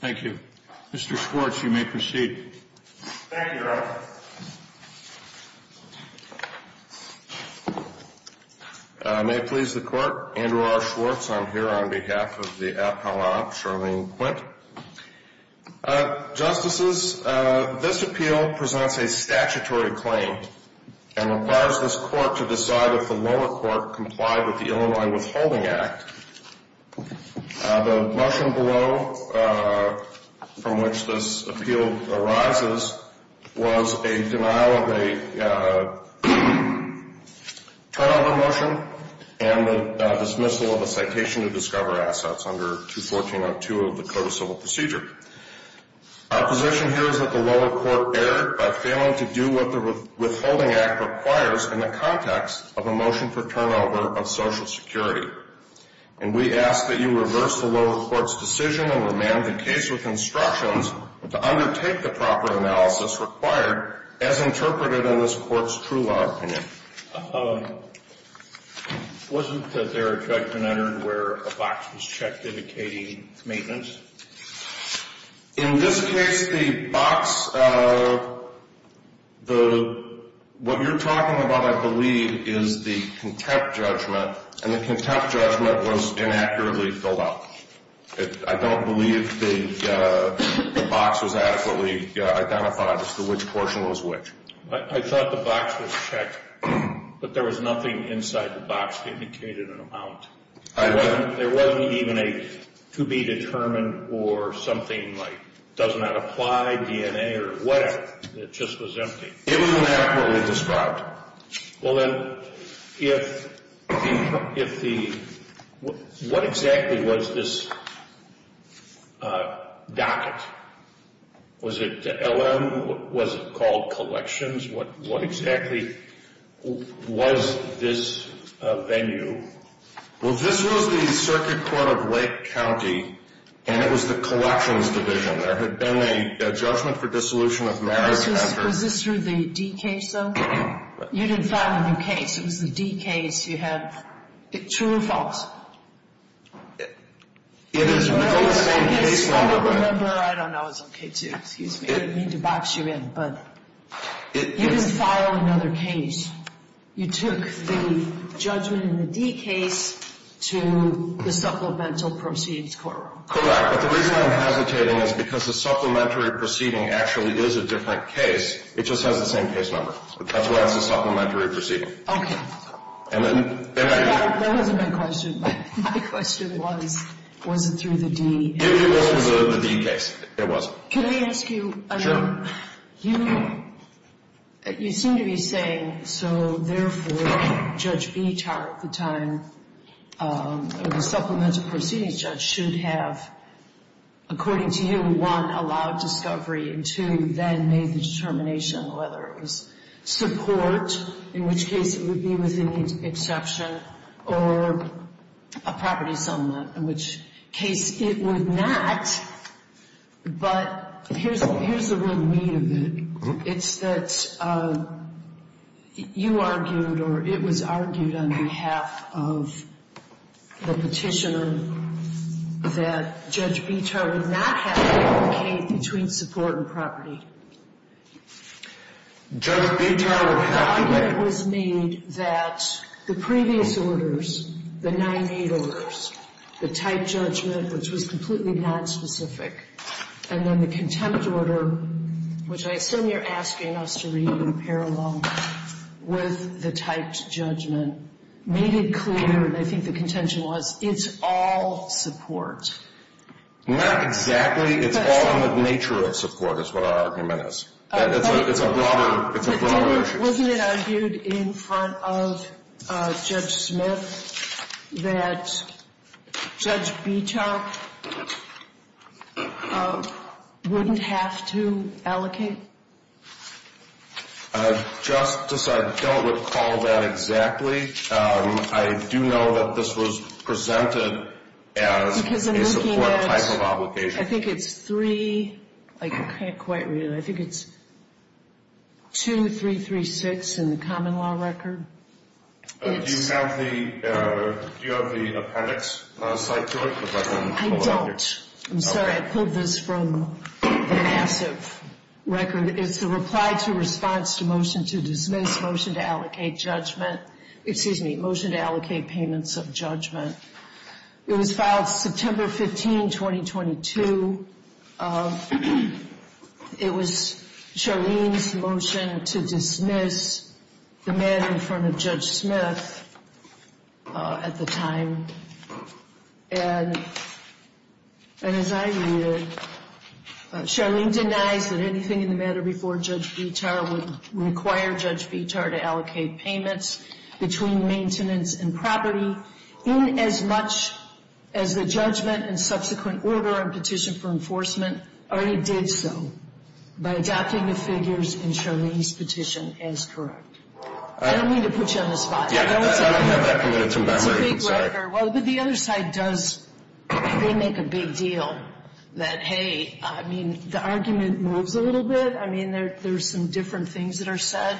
Thank you, Mr. Schwartz, you may proceed. Thank you, Your Honor. May it please the Court, Andrew R. Schwartz, I'm here on behalf of the AFPLA, Charlene Quint. Justices, this appeal presents a statutory claim and requires this Court to decide if the lower court complied with the Illinois Withholding Act. The motion below from which this appeal arises was a denial of a turnover motion and the dismissal of a citation to discover assets under 214.02 of the Code of Civil Procedure. My position here is that the lower court erred by failing to do what the Withholding Act requires in the context of a motion for turnover of Social Security. And we ask that you reverse the lower court's decision and amend the case reconstructions to undertake the proper analysis required as interpreted in this court's true law opinion. Wasn't there a section I heard where a box was checked indicating maintenance? In this case, the box, what you're talking about, I believe, is the contempt judgment, and the contempt judgment was inaccurately filled out. I don't believe the box was adequately identified as to which portion was which. I thought the box was checked, but there was nothing inside the box that indicated an amount. There wasn't even a to-be-determined or something like doesn't have applied DNA or whatever. It just was empty. It was inaccurately described. Well, then, what exactly was this docket? Was it LM? Was it called Collections? What exactly was this venue? Well, this was the Circuit Court of Lake County, and it was the Collections Division. There had been a judgment for dissolution of marriage after – Was this through the D case, though? You didn't file a new case. It was the D case. You had – true or false? It is true. I don't remember. I don't know. Excuse me. I didn't mean to box you in, but you didn't file another case. You took the judgment in the D case to the Supplemental Proceeds Court. Correct, but the reason I'm hesitating is because the Supplementary Proceeding actually is a different case. It just has the same case number. That's why it's the Supplementary Proceeding. Okay. And then – That wasn't my question. My question was, was it through the D case? It was through the D case. It was. Can I ask you – Sure. You seem to be saying, so therefore, Judge Bittar at the time, or the Supplemental Proceeding judge, should have, according to you, one, allowed discovery, and two, then made the determination whether it was support, in which case it would be within the exception, or a property settlement, in which case it would not. But here's the real need of it. Okay. It's that you argued, or it was argued on behalf of the petitioner, that Judge Bittar would not have to advocate between support and property. Judge Bittar – The argument was made that the previous orders, the 98 orders, the typed judgment, which was completely nonspecific, and then the contempt order, which I assume you're asking us to read in parallel with the typed judgment, made it clear, and I think the contention was, it's all support. Not exactly. It's all in the nature of support, is what our argument is. Wasn't it argued in front of Judge Smith that Judge Bittar wouldn't have to allocate? I just don't recall that exactly. I do know that this was presented as a support type of obligation. I think it's 3 – I can't quite read it. I think it's 2336 in the common law record. Do you have the appendix type to it? I don't. I'm sorry. I pulled this from the massive record. It's a reply to response to motion to dismiss motion to allocate judgment – excuse me, motion to allocate payments of judgment. It was filed September 15, 2022. It was Charlene's motion to dismiss the matter in front of Judge Smith at the time, and as I read it, Charlene denied that anything in the matter before Judge Bittar would require Judge Bittar to allocate payments between maintenance and property in as much as the judgment and subsequent order and petition for enforcement, or it did so by adopting the figures in Charlene's petition as correct. I don't mean to put you on the spot. I don't have that committed to memory. Well, but the other side does – they make a big deal that, hey, I mean, the argument moves a little bit. I mean, there's some different things that are said,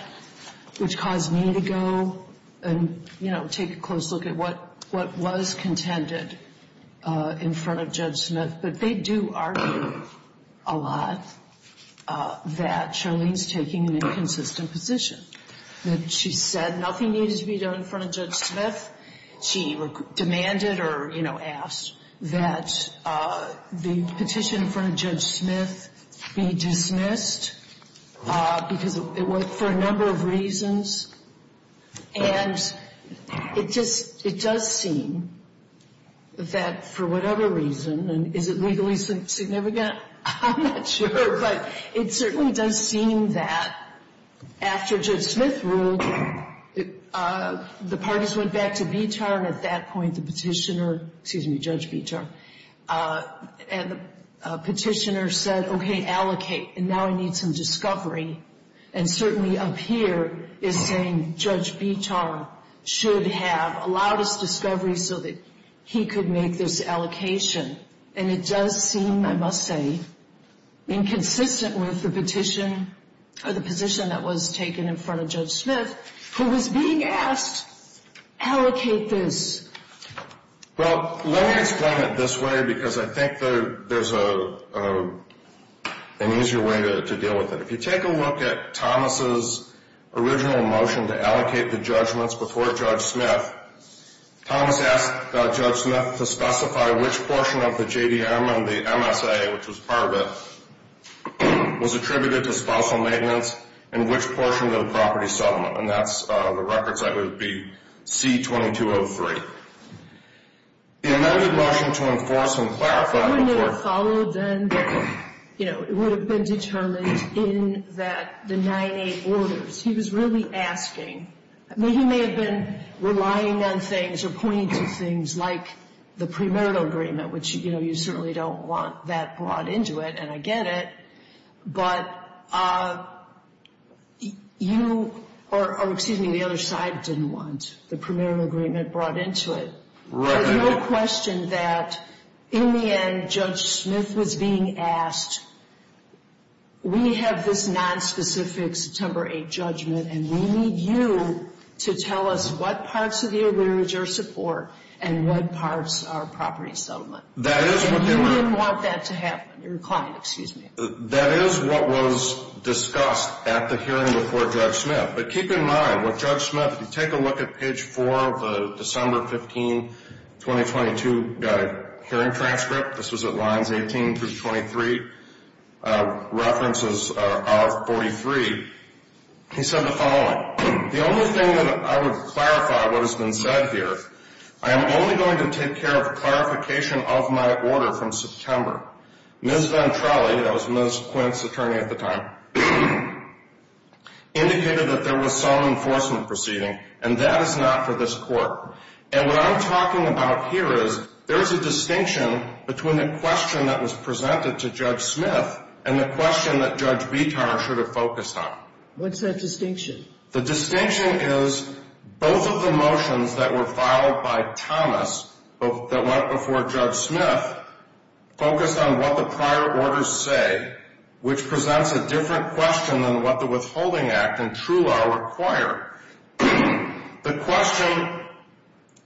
which caused me to go and, you know, take a close look at what was contended in front of Judge Smith, but they do argue a lot that Charlene's taking an inconsistent position. She said nothing needed to be done in front of Judge Smith. She demanded or, you know, asked that the petition in front of Judge Smith be dismissed because it was for a number of reasons, and it does seem that for whatever reason, and is it legally significant? I'm not sure, but it certainly does seem that after Judge Smith ruled, the parties went back to Bittar, and at that point the petitioner – excuse me, Judge Bittar – and the petitioner said, okay, allocate, and now I need some discovery, and certainly up here is saying Judge Bittar should have a lot of discovery so that he could make this allocation, and it does seem, I must say, inconsistent with the petition or the position that was taken in front of Judge Smith, who was being asked, allocate this. Well, let me explain it this way because I think there's an easier way to deal with it. If you take a look at Thomas' original motion to allocate the judgments before Judge Smith, Thomas asked Judge Smith to specify which portion of the JDM on the MSA, which was part of it, was attributed to spousal maintenance and which portion of the property settlement, and that's the records that would be C-2203. The amended motion to enforce and clarify – I don't know what followed then, but, you know, it would have been determined in the 9A orders. He was really asking. I mean, he may have been relying on things or pointing to things like the premarital agreement, which, you know, you certainly don't want that brought into it, and I get it, but you – or, excuse me, the other side didn't want the premarital agreement brought into it. Right. There's no question that, in the end, Judge Smith was being asked, we have this nonspecific September 8 judgment, and we need you to tell us what parts of the arrearage are for and what parts are property settlement. That is what they want. You didn't want that to happen. You're a client, excuse me. That is what was discussed at the hearing before Judge Smith. But keep in mind, with Judge Smith, if you take a look at page 4 of the December 15, 2022 hearing transcript, this is at lines 18 through 23, references 43. He said the following. The only thing that I would clarify what has been said here, I am only going to take care of a clarification of my order from September. Ms. Ventrelli – that was Ms. Quint's attorney at the time – indicated that there was some enforcement proceeding, and that is not for this court. And what I'm talking about here is, there is a distinction between the question that was presented to Judge Smith and the question that Judge Vitar sort of focused on. What's that distinction? The distinction is both of the motions that were filed by Thomas, that went before Judge Smith, focused on what the prior orders say, which presents a different question than what the Withholding Act and True Law require. The question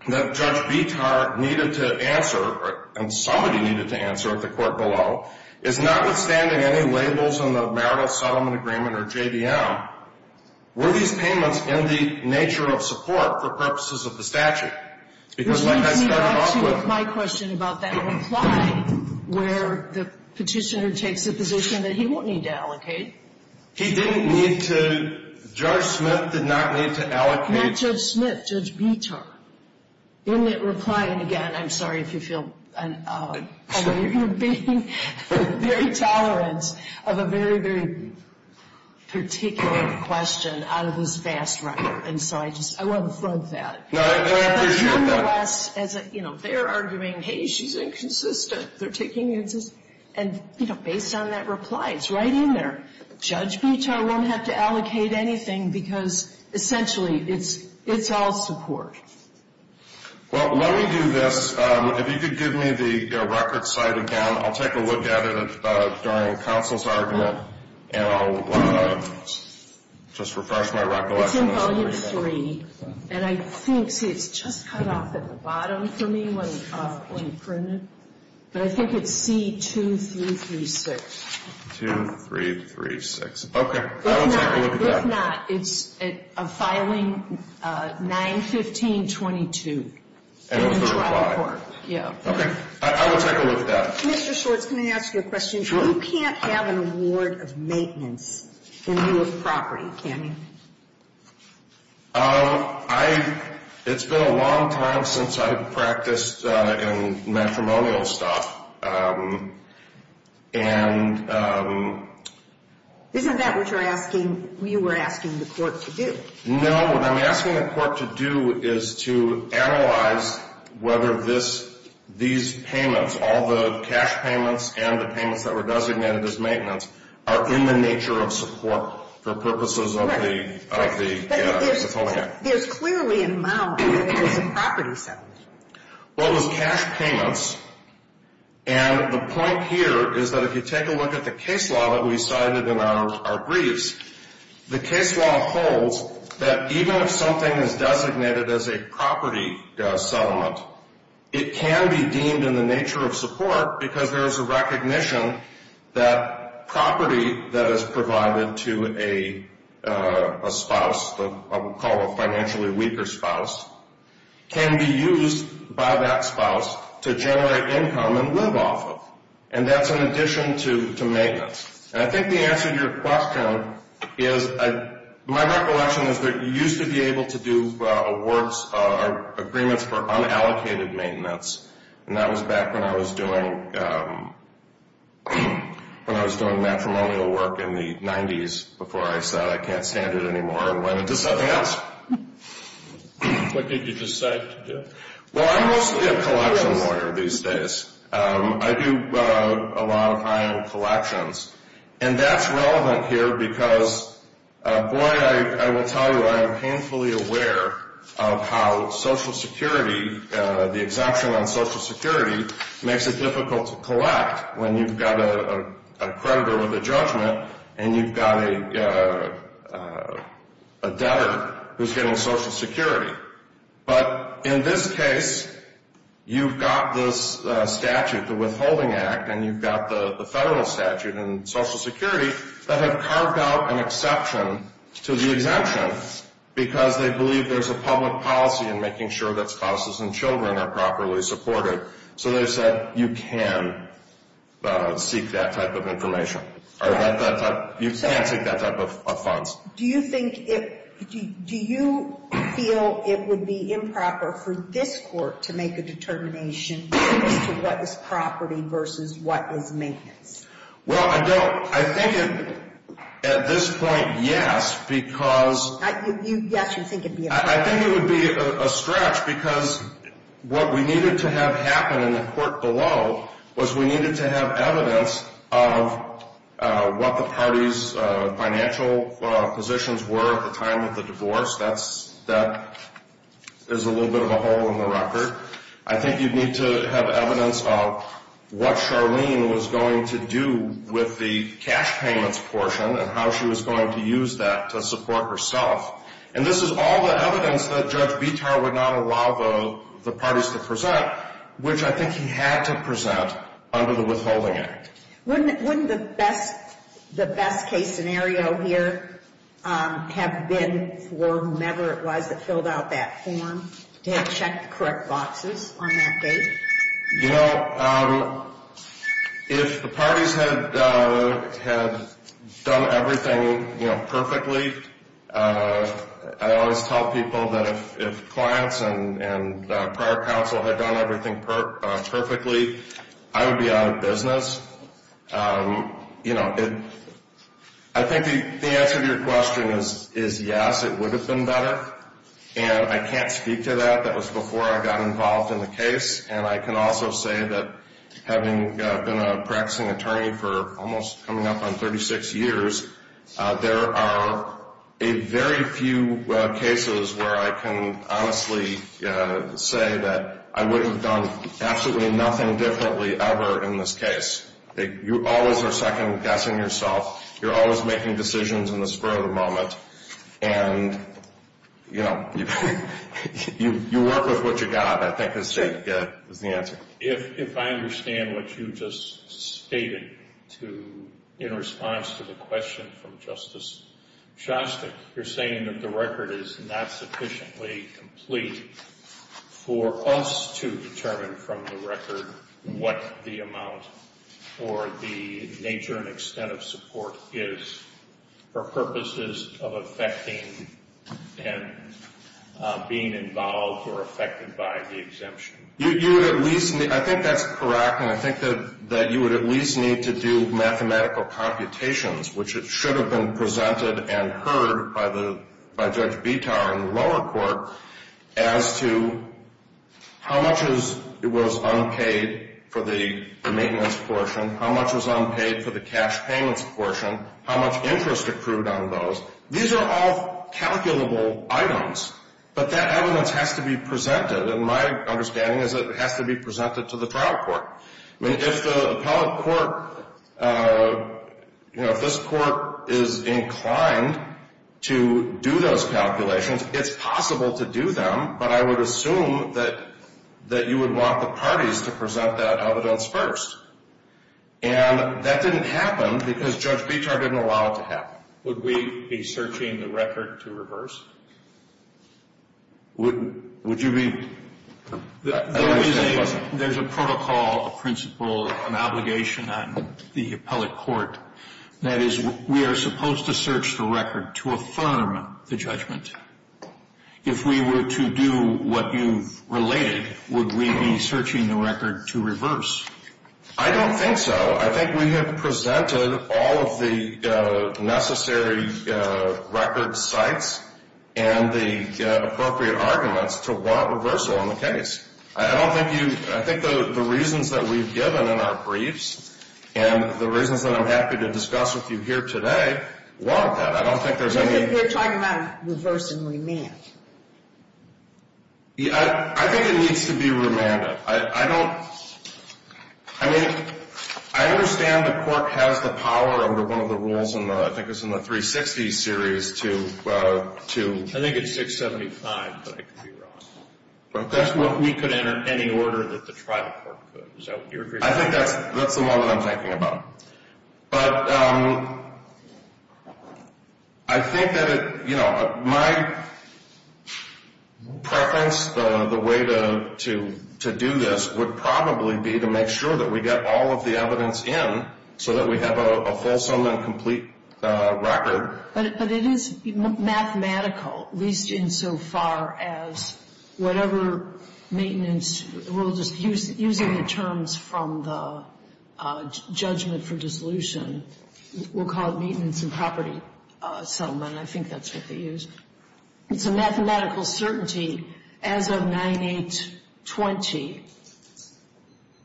that Judge Vitar needed to answer, and somebody needed to answer at the court below, is notwithstanding any labels on the marital settlement agreement or JVM, were these payments in the nature of support for purposes of the statute? There's no need to answer my question about that reply, where the petitioner takes the position that he won't need to allocate. He didn't need to – Judge Smith did not need to allocate. Not Judge Smith, Judge Vitar. In that reply, and again, I'm sorry if you feel – I know you're being very tolerant of a very, very particular question out of this vast record. And so I just – I want to quote that. No, I appreciate that. As a human rights – as a – you know, they're arguing, hey, she's inconsistent. They're taking – and, you know, based on that reply, it's right in there. Judge Vitar won't have to allocate anything because, essentially, it's all support. Well, let me do this. If you could give me the record side again, I'll take a look at it during counsel's argument. And I'll just refresh my recollection. It's in Volume 3. And I think it's just cut off at the bottom for me when you print it. But I think it's C-2336. 2336. Okay. I'll take a look at that. It's not. It's a filing 9-15-22. As a reply. Yeah. Okay. I will take a look at that. Mr. Schultz, can I ask you a question? Sure. You can't have an award of maintenance in your property, can you? It's been a long time since I've practiced in matrimonial stuff. Isn't that what you were asking the court to do? No. What I'm asking the court to do is to analyze whether these payments, all the cash payments and the payments that were designated as maintenance, are in the nature of support for purposes of the settlement act. But it is clearly and mildly related to property settlements. Well, the cash payments, and the point here is that if you take a look at the case law that we cited in our briefs, the case law holds that even if something is designated as a property settlement, it can be deemed in the nature of support because there is a recognition that property that is provided to a spouse, what we call a financially weaker spouse, can be used by that spouse to generate income and live off of. And that's in addition to maintenance. And I think the answer to your question is, my recollection is that you used to be able to do awards or agreements for unallocated maintenance, and that was back when I was doing matrimonial work in the 90s before I said I can't stand it anymore and went into something else. What did you decide to do? Well, I'm mostly a collection lawyer these days. I do a lot of my own collections. And that's relevant here because, Boyd, I will tell you I'm painfully aware of how Social Security, the exemption on Social Security makes it difficult to collect when you've got a creditor with a judgment and you've got a debtor who's getting Social Security. But in this case, you've got this statute, the Withholding Act, and you've got the federal statute and Social Security that have carved out an exception to the exemption because they believe there's a public policy in making sure that spouses and children are properly supported. So they said you can seek that type of information. You can't take that type of funds. Do you feel it would be improper for this court to make a determination as to what is property versus what is maintenance? Well, I don't. I think at this point, yes, because I think it would be a stretch because what we needed to have happen in the court below was we needed to have evidence of what the parties' financial positions were at the time of the divorce. That is a little bit of a hole in the record. I think you need to have evidence of what Charlene was going to do with the cash payments portion and how she was going to use that to support herself. And this is all the evidence that Judge Bitar would not allow the parties to present, which I think he had to present under the Withholding Act. Wouldn't the best case scenario here have been for whomever it was that filled out that form to have checked the correct boxes on that date? You know, if the parties had done everything perfectly, I always tell people that if clients and prior counsel had done everything perfectly, I would be out of business. I think the answer to your question is yes, it would have been better. And I can't speak to that. That was before I got involved in the case. And I can also say that having been a practicing attorney for almost coming up on 36 years, there are very few cases where I can honestly say that I would have done absolutely nothing differently ever in this case. You always are second-guessing yourself. You're always making decisions in the spur of the moment. And, you know, you work with what you've got. I think that's the answer. If I understand what you just stated in response to the question from Justice Shostak, you're saying that the record is not sufficiently complete for us to determine from the record what the amount for the nature and extent of support is for purposes of affecting and being involved or affected by the exemption. I think that's correct, and I think that you would at least need to do mathematical computations, which should have been presented and heard by Judge Vitar in the lower court, as to how much was unpaid for the maintenance portion, how much was unpaid for the cash payments portion, how much interest accrued on those. These are all calculable items, but that evidence has to be presented. And my understanding is that it has to be presented to the appellate court. If the appellate court, you know, if this court is inclined to do those calculations, it's possible to do them, but I would assume that you would want the parties to present that evidence first. And that didn't happen because Judge Vitar didn't allow it to happen. Would we be searching the record to reverse? Would you be? There is a protocol, a principle, an obligation on the appellate court. That is, we are supposed to search the record to affirm the judgment. If we were to do what you related, would we be searching the record to reverse? I don't think so. I think we have presented all of the necessary record sites and the appropriate arguments for what reversal in the case. I don't think you, I think the reasons that we've given in our briefs and the reasons that I'm happy to discuss with you here today, I don't think there's any. Maybe if you're talking about reverse and remand. Yeah, I think it needs to be remanded. I don't, I mean, I understand the court has the power over one of the rules, and I think it's in the 360 series, to I think it's 675, but I can figure out. But that's what we could, in any order, at the trial court. I think that's the one that I'm talking about. But I think that, you know, my preference, the way to do this, would probably be to make sure that we get all of the evidence in so that we have a fulsome and complete record. But it is mathematical, at least insofar as whatever maintenance, we'll just, using the terms from the judgment for dissolution, we'll call it maintenance and property settlement. I think that's what they used. It's a mathematical certainty, as of 9820,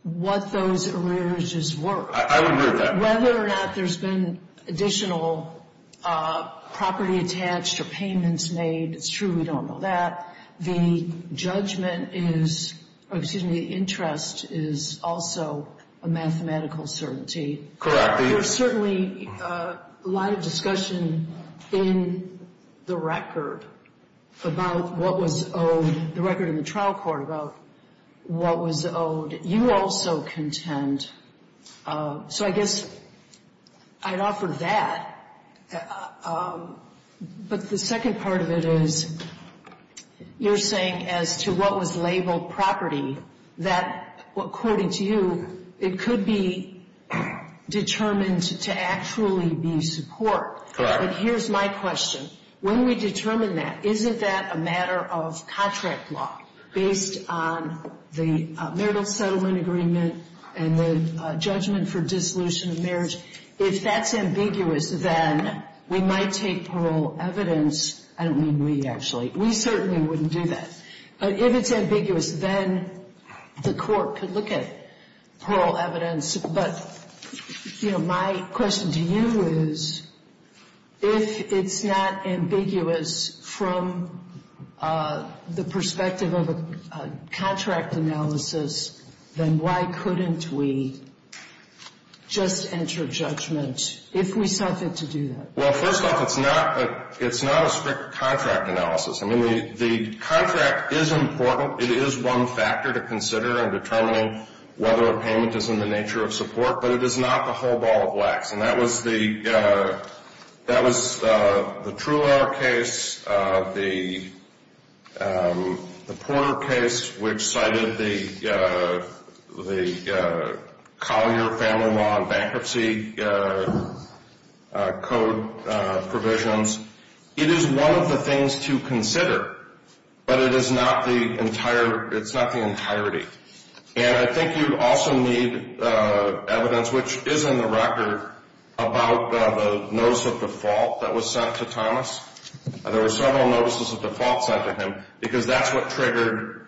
what those arrears just were. I would agree with that. Whether or not there's been additional property attached or payments made, it's true we don't know that. The judgment is, excuse me, the interest is also a mathematical certainty. There's certainly a lot of discussion in the record about what was owed, the record in the trial court about what was owed. You also contend. So I guess I'd offer that. But the second part of it is, you're saying as to what was labeled property, that according to you, it could be determined to actually be support. Correct. But here's my question. When we determine that, isn't that a matter of contract law, based on the marital settlement agreement and the judgment for dissolution of marriage? If that's ambiguous, then we might take parole evidence. I don't mean we, actually. We certainly wouldn't do that. If it's ambiguous, then the court could look at parole evidence. But my question to you is, if it's not ambiguous from the perspective of a contract analysis, then why couldn't we just enter judgment if we felt it to do that? Well, first off, it's not a strict contract analysis. I mean, the contract is important. It is one factor to consider in determining whether a payment is in the nature of support. But it is not the whole ball of wax. And that was the Truer case, the Porter case, which cited the Collier Family Law and Bankruptcy Code provisions. It is one of the things to consider, but it's not the entirety. And I think you also need evidence, which is in the record, about the notice of default that was sent to Thomas. There were several notices of default sent to him, because that's what triggered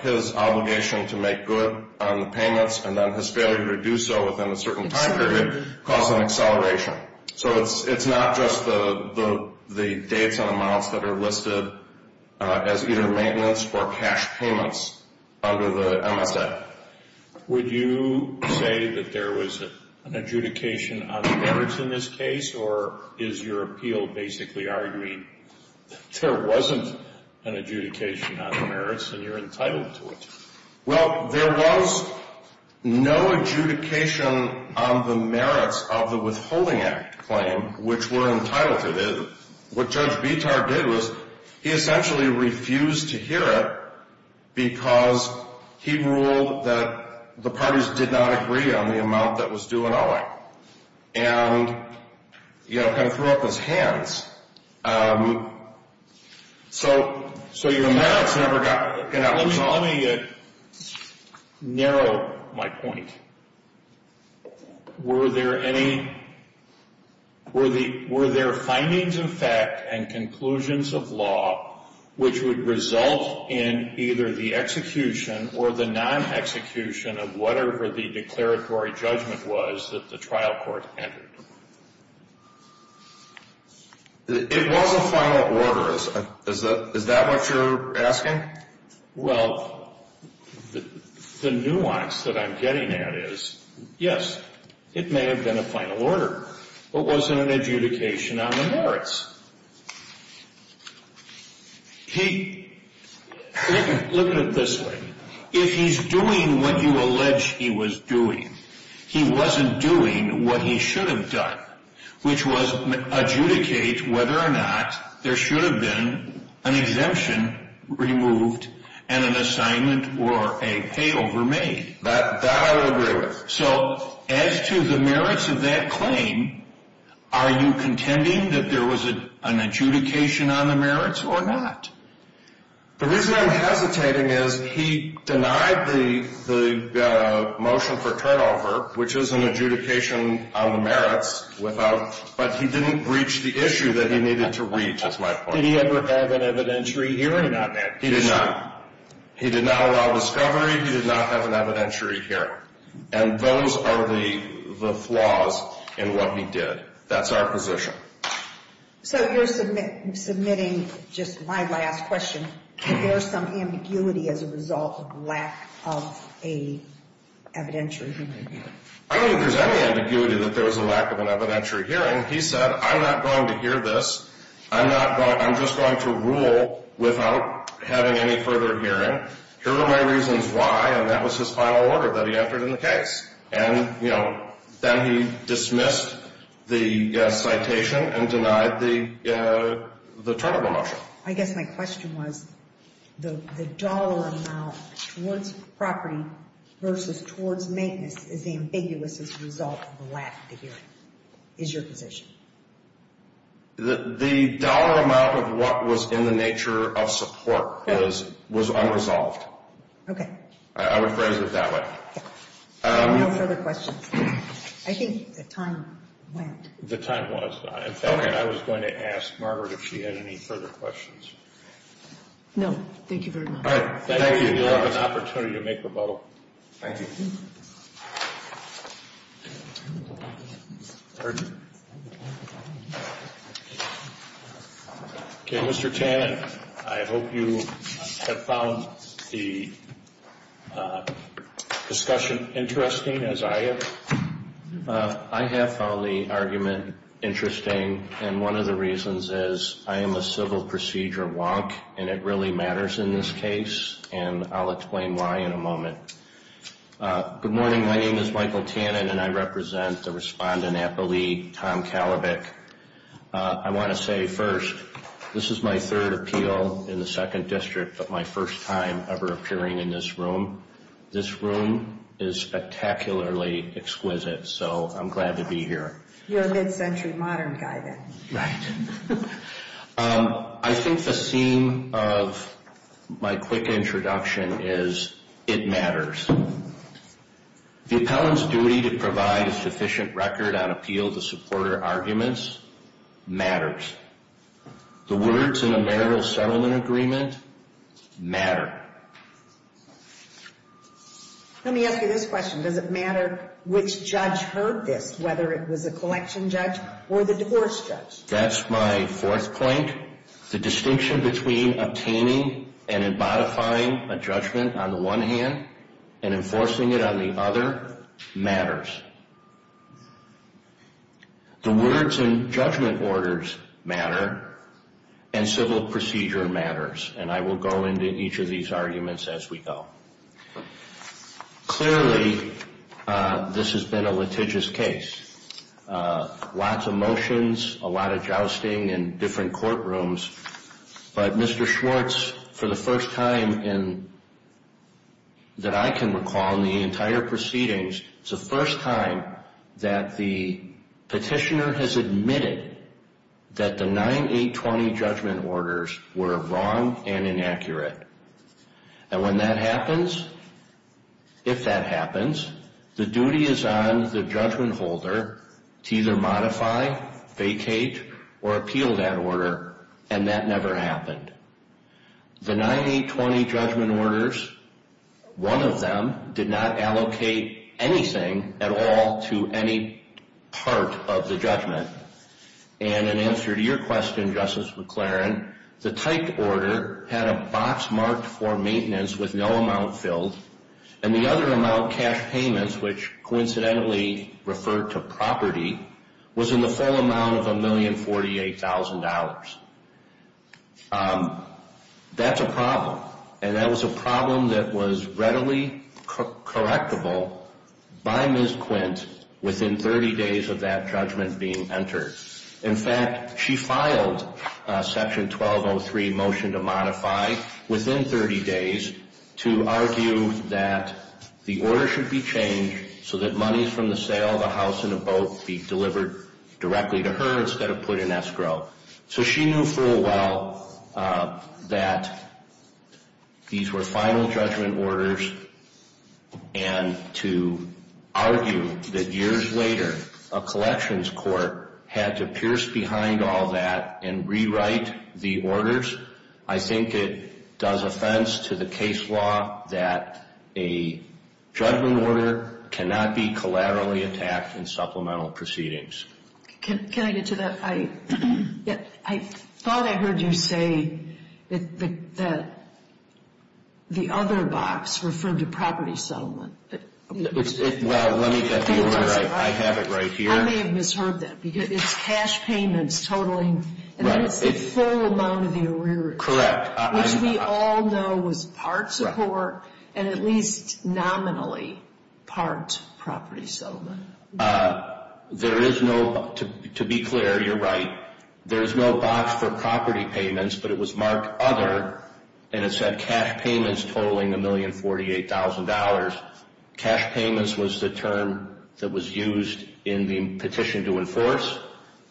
his obligation to make good on the payments, and then his failure to do so within a certain time period caused an acceleration. Okay. So it's not just the data amounts that are listed as either maintenance or cash payments under the MSF. Would you say that there was an adjudication on merits in this case, or is your appeal basically arguing there wasn't an adjudication on merits and you're entitled to it? Well, there was no adjudication on the merits of the withholding act claim, which we're entitled to this. What Judge Bitar did was he essentially refused to hear it, because he ruled that the parties did not agree on the amount that was due in OI. And, you know, kind of threw up his hands. So your merits never got out. Let me narrow my point. Were there findings of fact and conclusions of law, which would result in either the execution or the non-execution of whatever the declaratory judgment was that the trial court entered? It was a final order. Is that what you're asking? Well, the nuance that I'm getting at is, yes, it may have been a final order, but wasn't an adjudication on the merits. Look at it this way. If he's doing what you allege he was doing, he wasn't doing what he should have done, which was adjudicate whether or not there should have been an exemption removed and an assignment or a payover made. That I would agree with. So as to the merits of that claim, are you contending that there was an adjudication on the merits or not? The reason I'm hesitating is he denied the motion for turnover, which is an adjudication on the merits, but he didn't reach the issue that he needed to reach, is my point. Did he ever have an evidentiary hearing on that? He did not. He did not allow discovery. He did not have an evidentiary hearing. And those are the flaws in what he did. That's our position. So you're submitting just my last question. Is there some ambiguity as a result of lack of an evidentiary hearing? I don't think there's any ambiguity that there was a lack of an evidentiary hearing. He said, I'm not going to hear this. I'm just going to rule without having any further hearing. Here are my reasons why, and that was his final order that he entered in the case. Then he dismissed the citation and denied the turnover motion. I guess my question was the dollar amount towards property versus towards maintenance is ambiguous as a result of the lack of hearing. Is your position. The dollar amount of what was in the nature of support was unresolved. I would phrase it that way. No further questions. I think the time went. The time was gone. In fact, I was going to ask Margaret if she had any further questions. No, thank you very much. Thank you. You have an opportunity to make the bubble. Thank you. Mr. Tan, I hope you have found the discussion interesting, as I have. I have found the argument interesting, and one of the reasons is I am a civil procedure wonk, and it really matters in this case, and I'll explain why in a moment. Good morning. My name is Michael Tannin, and I represent the respondent at the league, Tom Kalibik. I want to say first, this is my third appeal in the second district, but my first time ever appearing in this room. This room is spectacularly exquisite, so I'm glad to be here. You're a mid-century modern guy then. Right. I think the theme of my quick introduction is it matters. The appellant's duty to provide a sufficient record on appeal to supporter arguments matters. The words in a marital settlement agreement matter. Let me ask you this question. Does it matter which judge heard this, whether it was the collection judge or the divorce judge? That's my fourth point. The distinction between obtaining and modifying a judgment on the one hand and enforcing it on the other matters. The words in judgment orders matter, and civil procedure matters, and I will go into each of these arguments as we go. Clearly, this has been a litigious case. Lots of motions, a lot of jousting in different courtrooms, but Mr. Schwartz, for the first time that I can recall in the entire proceedings, it's the first time that the petitioner has admitted that the 9-8-20 judgment orders were wrong and inaccurate. And when that happens, if that happens, the duty is on the judgment holder to either modify, vacate, or appeal that order, and that never happened. The 9-8-20 judgment orders, one of them did not allocate anything at all to any part of the judgment. And in answer to your question, Justice McLaren, the typed order had a box marked for maintenance with no amount filled, and the other amount cash payments, which coincidentally referred to property, was in the full amount of $1,048,000. That's a problem, and that was a problem that was readily correctable by Ms. Quint within 30 days of that judgment being entered. In fact, she filed Section 1203, Motion to Modify, within 30 days to argue that the order should be changed so that money from the sale of a house and a boat be delivered directly to her instead of put in escrow. So she knew full well that these were final judgment orders, and to argue that years later a collections court had to pierce behind all that and rewrite the orders, I think it does offense to the case law that a judgment order cannot be collaterally attacked in supplemental proceedings. Can I get to that? I thought I heard you say that the other box referred to property settlement. Well, let me let you know I have it right here. I may have misheard that, because it's cash payments totaling the full amount of the arrearage. Correct. Which we all know was part support and at least nominally part property settlement. There is no, to be clear, you're right, there's no box for property payments, but it was marked other, and it said cash payments totaling $1,048,000. Cash payments was the term that was used in the petition to enforce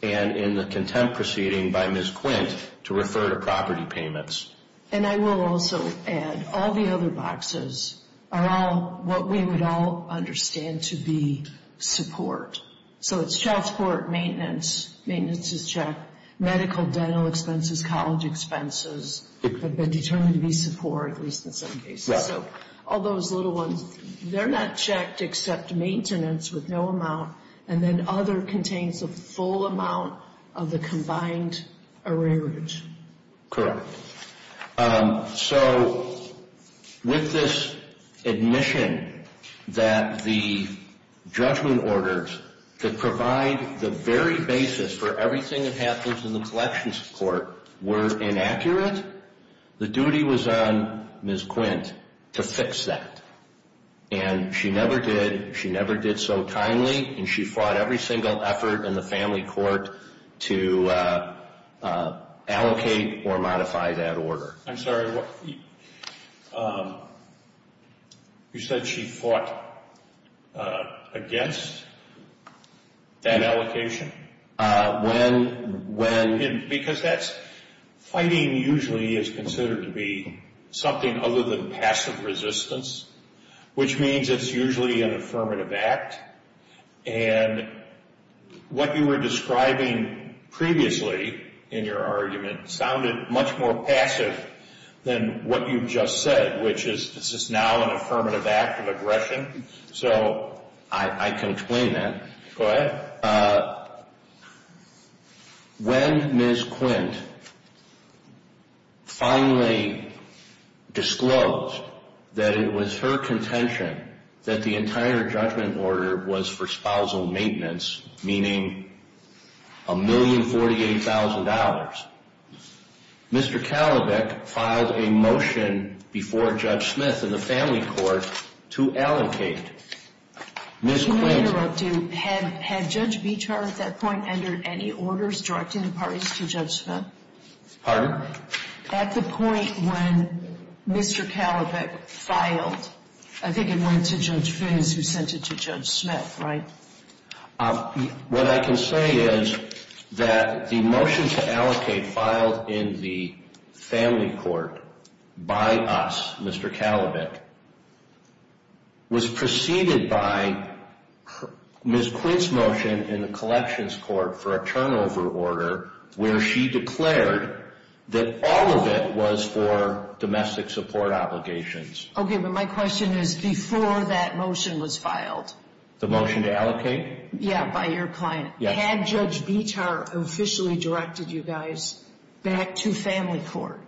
and in the contempt proceeding by Ms. Quint to refer to property payments. And I will also add all the other boxes are all what we would all understand to be support. So it's child support, maintenance, maintenance is checked, medical, dental expenses, college expenses have been determined to be support, at least in some cases. So all those little ones, they're not checked except maintenance with no amount, and then other contains the full amount of the combined arrearage. Correct. So with this admission that the judgment orders could provide the very basis for everything that happens in the collections court were inaccurate, the duty was on Ms. Quint to fix that. And she never did, she never did so timely, and she fought every single effort in the family court to allocate or modify that order. I'm sorry, you said she fought against that allocation? When? Because that's, fighting usually is considered to be something other than passive resistance, which means it's usually an affirmative act. And what you were describing previously in your argument sounded much more passive than what you just said, which is this is now an affirmative act of aggression. So I can explain that. When Ms. Quint finally disclosed that it was her contention that the entire judgment order was for spousal maintenance, meaning $1,048,000, Mr. Talabak filed a motion before Judge Smith in the family court to allocate. Ms. Quint? No, you're interrupting. Had Judge Beecher at that point entered any orders directing the parties to Judge Smith? Pardon? At the point when Mr. Talabak filed, I think it went to Judge Fins who sent it to Judge Smith, right? What I can say is that the motion to allocate filed in the family court by us, Mr. Talabak, was preceded by Ms. Quint's motion in the collections court for a turnover order where she declared that all of it was for domestic support obligations. Okay, but my question is before that motion was filed. The motion to allocate? Yeah, by your client. Had Judge Beecher officially directed you guys back to family court?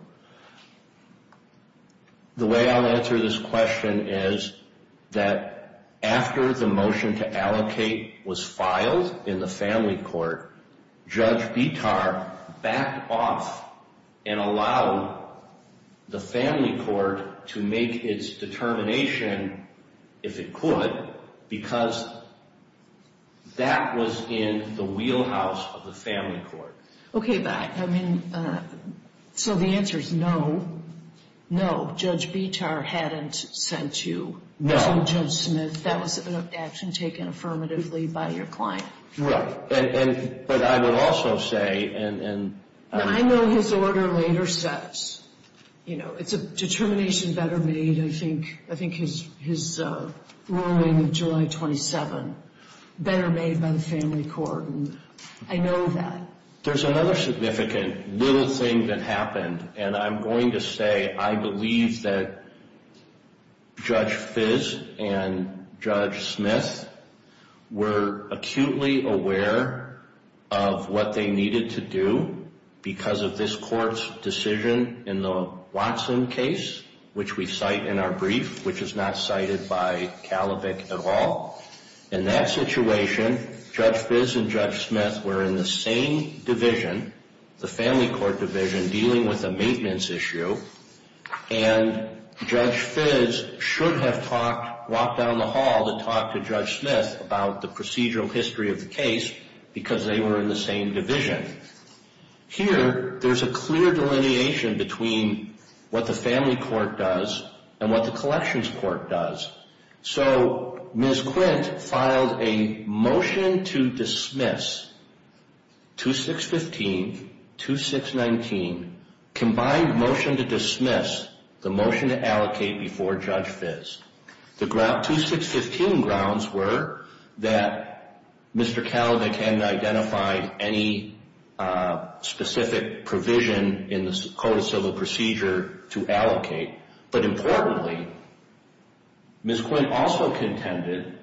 The way I'll answer this question is that after the motion to allocate was filed in the family court, Judge Beecher backed off and allowed the family court to make its determination, if it could, because that was in the wheelhouse of the family court. Okay, but I mean, so the answer is no. No, Judge Beecher hadn't sent you to Judge Smith. That was an action taken affirmatively by your client. Right, but I would also say— I know his order later says, you know, it's a determination better made, I think his ruling of July 27, better made by the family court. I know that. There's another significant little thing that happened, and I'm going to say I believe that Judge Fiss and Judge Smith were acutely aware of what they needed to do because of this court's decision in the Watson case, which we cite in our brief, which is not cited by CALIBIC at all. In that situation, Judge Fiss and Judge Smith were in the same division, the family court division, dealing with a maintenance issue, and Judge Fiss should have walked down the hall to talk to Judge Smith about the procedural history of the case because they were in the same division. Here, there's a clear delineation between what the family court does and what the collections court does. So, Ms. Quint filed a motion to dismiss 2615, 2619, combined motion to dismiss, the motion to allocate before Judge Fiss. The 2615 grounds were that Mr. CALIBIC hadn't identified any specific provision in the Code of Civil Procedure to allocate, but importantly, Ms. Quint also contended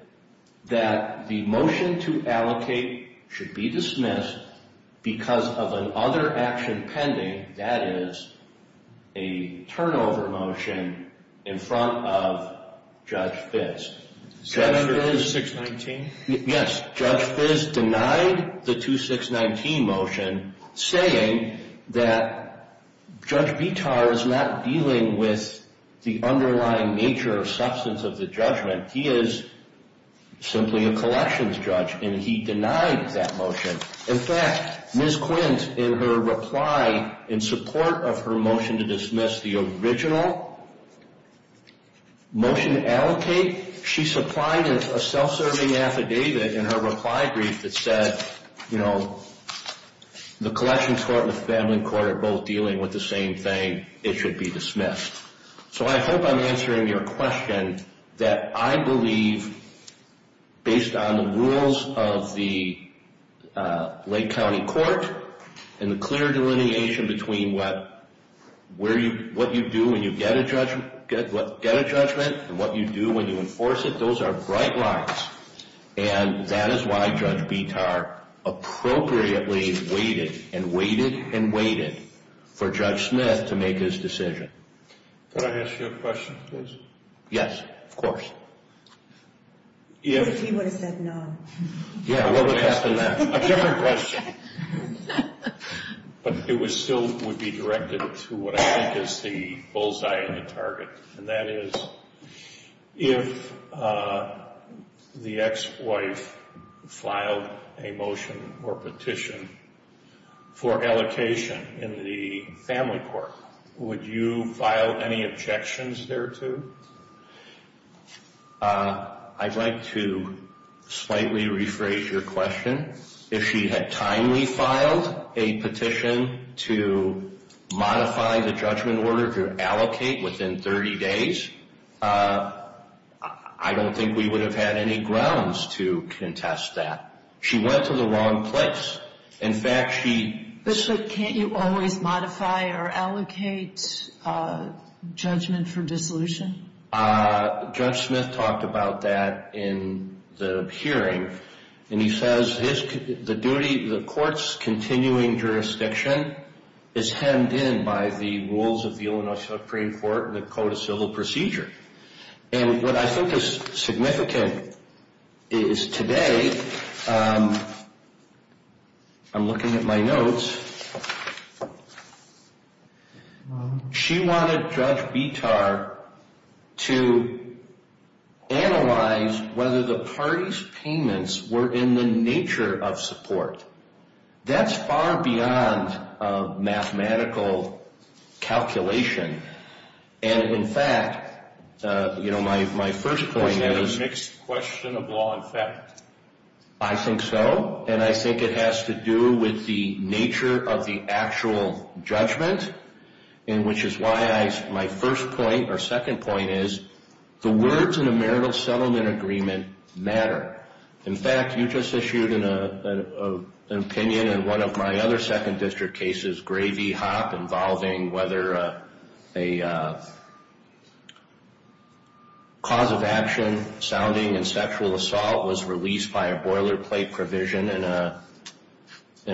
that the motion to allocate should be dismissed because of another action pending, that is, a turnover motion in front of Judge Fiss. Judge Fiss denied the 2619 motion, saying that Judge Bitar was not dealing with the underlying nature or substance of the judgment. He is simply a collections judge, and he denied that motion. In fact, Ms. Quint, in her reply, in support of her motion to dismiss the original motion to allocate, she supplied a self-serving affidavit in her reply brief that said, you know, the collections court and the family court are both dealing with the same thing. It should be dismissed. So I hope I'm answering your question that I believe, based on the rules of the Lake County court and the clear delineation between what you do when you get a judgment and what you do when you enforce it, because those are bright lines, and that is why Judge Bitar appropriately waited and waited and waited for Judge Smith to make his decision. Could I ask you a question, please? Yes, of course. What if he would have said no? Yeah, what would have happened then? A different question. But it still would be directed to what I think is the bullseye and the target, and that is if the ex-wife filed a motion or petition for allocation in the family court, would you file any objections thereto? I'd like to slightly rephrase your question. If she had timely filed a petition to modify the judgment order to allocate within 30 days, I don't think we would have had any grounds to contest that. She went to the wrong place. In fact, she- But so can't you always modify or allocate judgment for dissolution? Judge Smith talked about that in the hearing, and he says the court's continuing jurisdiction is hemmed in by the rules of the Illinois Supreme Court and the Code of Civil Procedure. And what I think is significant is today, I'm looking at my notes, and she wanted Judge Vitar to analyze whether the party's payments were in the nature of support. That's far beyond mathematical calculation. And, in fact, my first point is- Is that a mixed question of law and fact? I think so, and I think it has to do with the nature of the actual judgment, and which is why my first point or second point is the words in a marital settlement agreement matter. In fact, you just issued an opinion in one of my other second district cases, Gray v. Hop, involving whether a cause of action sounding in sexual assault was released by a boilerplate provision in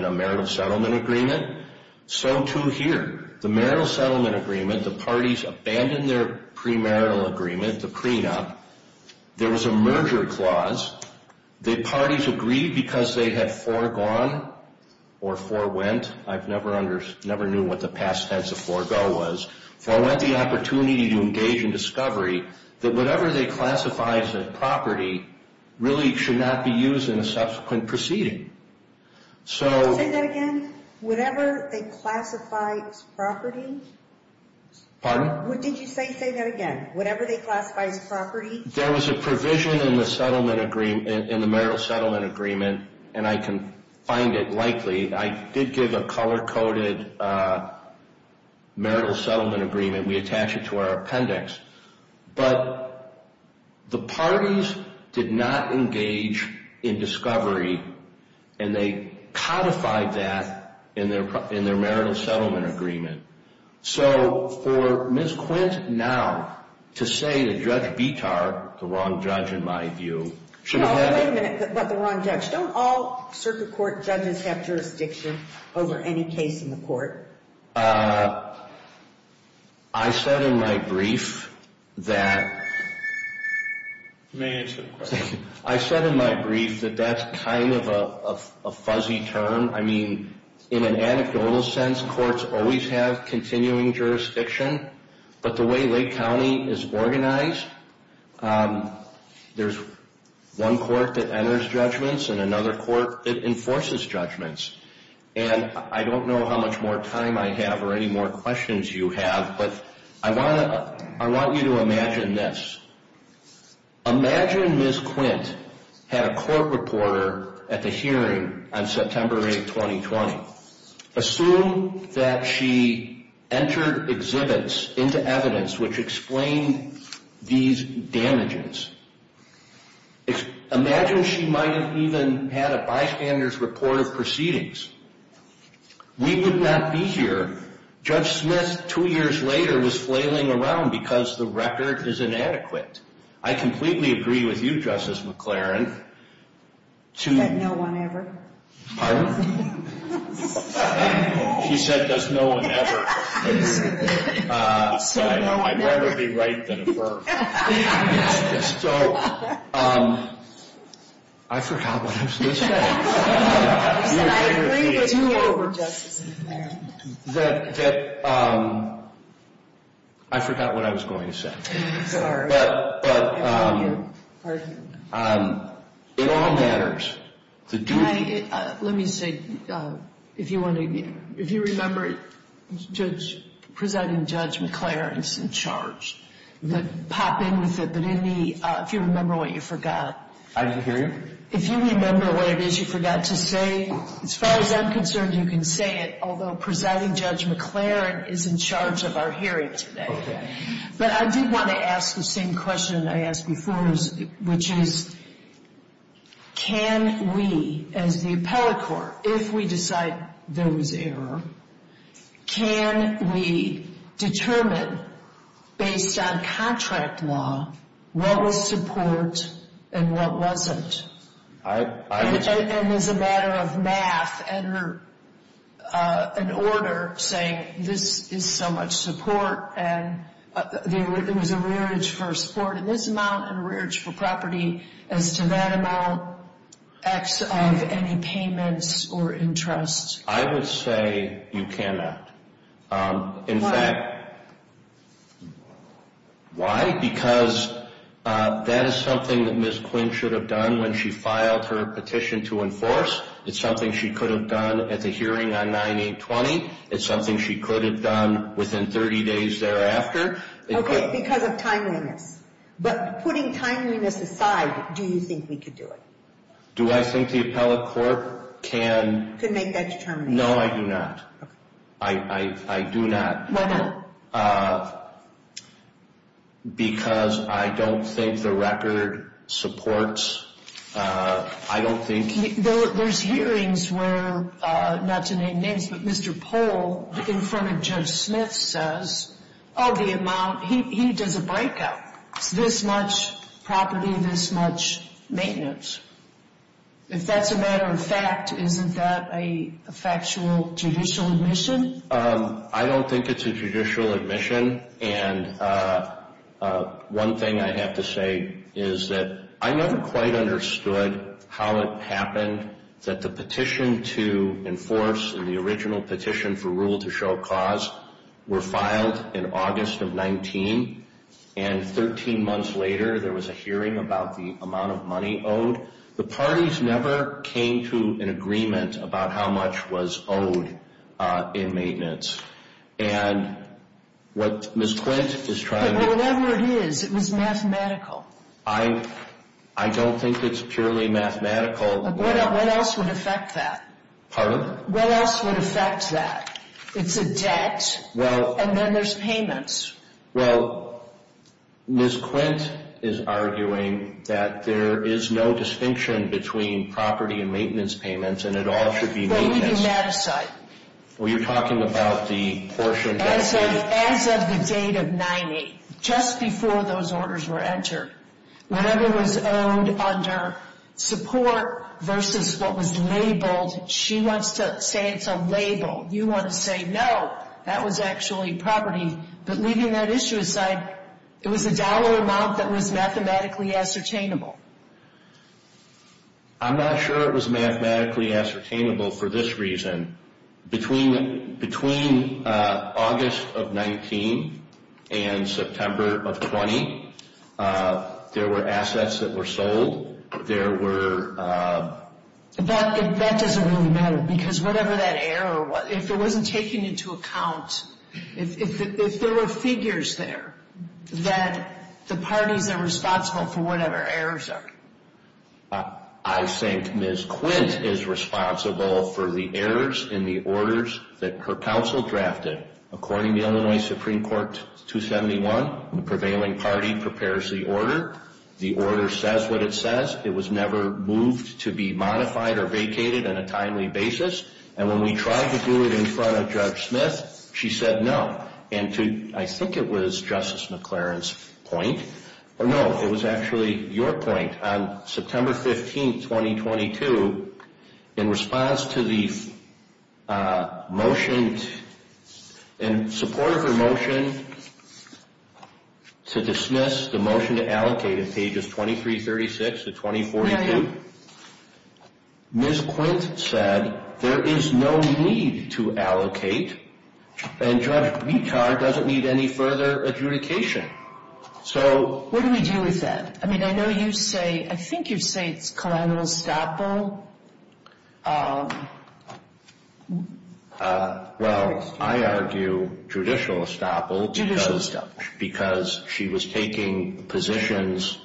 a marital settlement agreement. So, too, here. The marital settlement agreement, the parties abandoned their premarital agreement, the prenup. There was a merger clause. The parties agreed because they had foregone or forewent. I never knew what the past tense of forego was. I want the opportunity to engage in discovery that whatever they classify as a property really should not be used in a subsequent proceeding. Say that again? Whatever they classify as property? Pardon? What did you say? Say that again. Whatever they classify as property? There was a provision in the marital settlement agreement, and I can find it likely. I did give a color-coded marital settlement agreement. We attach it to our appendix. But the parties did not engage in discovery, and they codified that in their marital settlement agreement. So for Ms. Quint now to say that Judge Vitar, the wrong judge in my view, should have been… No, wait a minute about the wrong judge. Don't all circuit court judgments have jurisdiction over any case in the court? I said in my brief that that's kind of a fuzzy term. I mean, in an anecdotal sense, courts always have continuing jurisdiction, but the way Lake County is organized, there's one court that enters judgments and another court that enforces judgments. And I don't know how much more time I have or any more questions you have, but I want you to imagine this. Imagine Ms. Quint had a court reporter at the hearing on September 8, 2020. Assume that she entered exhibits into evidence which explained these damages. Imagine she might have even had a bystander's report of proceedings. We would not be here. Judge Smith, two years later, was flailing around because the record is inadequate. I completely agree with you, Justice McLaren. That no one ever? Pardon? She said there's no one ever. I'd rather be right than wrong. I forgot what I was going to say. I forgot what I was going to say. Sorry. Let me say, if you remember presenting Judge McLaren's in charge, pop in with me if you remember what you forgot. I didn't hear you. If you remember what it is you forgot to say, as far as I'm concerned, you can say it, although presenting Judge McLaren is in charge of our hearing today. But I do want to ask the same question I asked before, which is, can we, as the appellate court, if we decide there was error, can we determine, based on contract law, what was support and what wasn't? I would say that as a matter of math, enter an order saying this is so much support and there was a rearage for support in this amount and rearage for property as to that amount, act of any payments or interest. I would say you cannot. Why? Why? Why? Because that is something that Ms. Quinn should have done when she filed her petition to enforce. It's something she could have done at the hearing on 9820. It's something she could have done within 30 days thereafter. Okay, because of timeliness. But putting timeliness aside, do you think we could do it? Do I think the appellate court can... Could make that determination. No, I do not. Okay. I do not. Why not? Because I don't think the record supports, I don't think... There's hearings where, not to name names, but Mr. Pohl in front of Judge Smith says, oh, the amount, he did the breakup. This much property, this much maintenance. If that's a matter of fact, isn't that a factual judicial admission? I don't think it's a judicial admission. And one thing I have to say is that I never quite understood how it happened that the petition to enforce and the original petition for rule to show cause were filed in August of 19. And 13 months later, there was a hearing about the amount of money owed. The parties never came to an agreement about how much was owed in maintenance. And what Ms. Quint is trying to... Whatever it is, it was mathematical. I don't think it's purely mathematical. What else would affect that? Pardon? What else would affect that? It's a debt, and then there's payments. Well, Ms. Quint is arguing that there is no distinction between property and maintenance payments, and it all should be maintenance. Well, you're talking about the portion... As of the date of 9-8, just before those orders were entered, whatever was owned under support versus what was labeled, she wants to say it's a label. You want to say, no, that was actually property. But leaving that issue aside, it was a dollar amount that was mathematically ascertainable. I'm not sure it was mathematically ascertainable for this reason. Between August of 19 and September of 20, there were assets that were sold. There were... That doesn't really matter because whatever that error was, if it wasn't taken into account, if there were figures there that the parties are responsible for whatever errors are. I think Ms. Quint is responsible for the errors in the orders that her counsel drafted. According to Illinois Supreme Court 271, the prevailing party prepares the order. The order says what it says. It was never moved to be modified or vacated on a timely basis. When we tried to do it in front of Judge Smith, she said no. I think it was Justice McLaren's point. No, it was actually your point. On September 15, 2022, in response to the motion, in support of her motion to dismiss the motion to allocate on pages 2336 to 2042, Ms. Quint said there is no need to allocate, and Judge Meachar doesn't need any further adjudication. So... What do we do with that? I mean, I know you say, I think you say it's collateral estoppel. Well, I argue judicial estoppel... Judicial estoppel. Because she was taking positions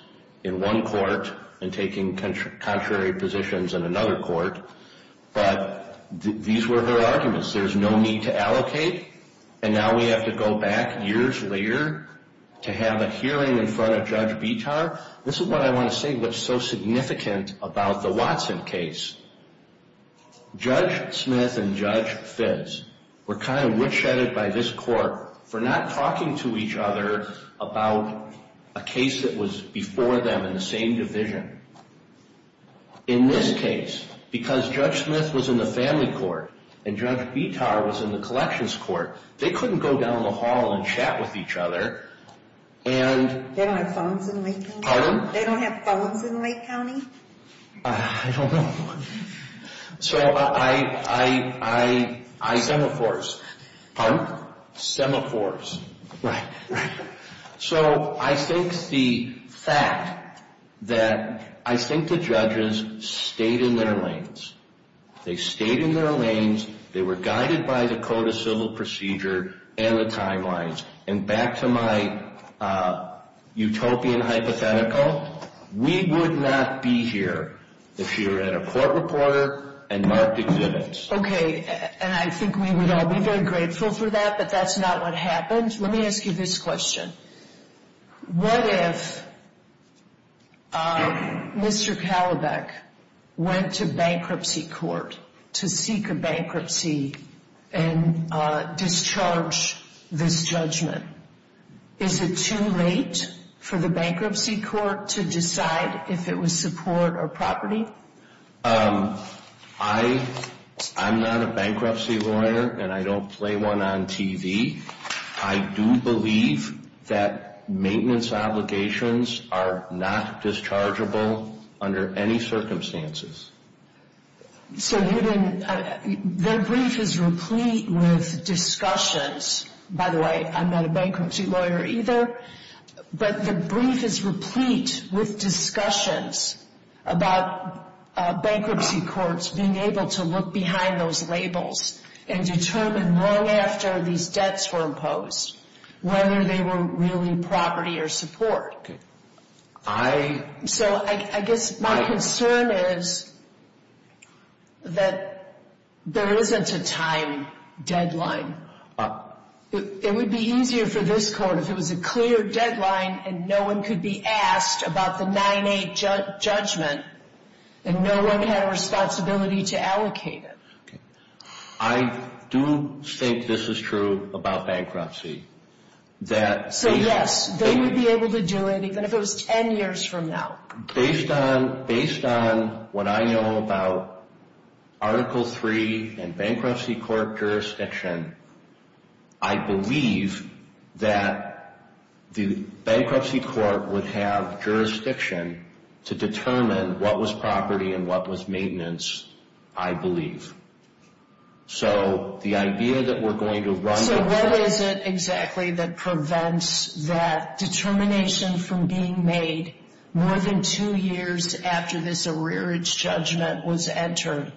in one court and taking contrary positions in another court. But these were her arguments. There's no need to allocate, and now we have to go back years later to have a hearing in front of Judge Meachar. This is what I want to say that's so significant about the Watson case. Judge Smith and Judge Fitts were kind of witch-hunted by this court for not talking to each other about a case that was before them in the same division. In this case, because Judge Smith was in the family court and Judge Meachar was in the collections court, they couldn't go down the hall and chat with each other and... They don't have phones in Lake County? Pardon? They don't have phones in Lake County? I don't know. So I... I... Stemophores. Pardon? Stemophores. Right, right. So I think the fact that... I think the judges stayed in their lanes. They stayed in their lanes. They were guided by the Code of Civil Procedure and the timelines. And back to my utopian hypothetical, we would not be here if you had a court reporter and marked exhibits. Okay. And I think we would all be very grateful for that, but that's not what happened. Let me ask you this question. What if Mr. Kalibak went to bankruptcy court to seek a bankruptcy and discharge this judgment? Is it too late for the bankruptcy court to decide if it was support or property? I'm not a bankruptcy lawyer, and I don't play one on TV. I do believe that maintenance obligations are not dischargeable under any circumstances. So their brief is replete with discussions. By the way, I'm not a bankruptcy lawyer either, but the brief is replete with discussions about bankruptcy courts being able to look behind those labels and determine long after these debts were imposed whether they were really property or support. I... It would be easier for this court if it was a clear deadline and no one could be asked about the 9-8 judgment and no one had a responsibility to allocate it. I do think this is true about bankruptcy. So yes, they would be able to do it even if it was 10 years from now. Based on what I know about Article III and bankruptcy court jurisdiction, I believe that the bankruptcy court would have jurisdiction to determine what was property and what was maintenance, I believe. So the idea that we're going to run... So what is it exactly that prevents that determination from being made more than two years after this arrearage judgment was entered?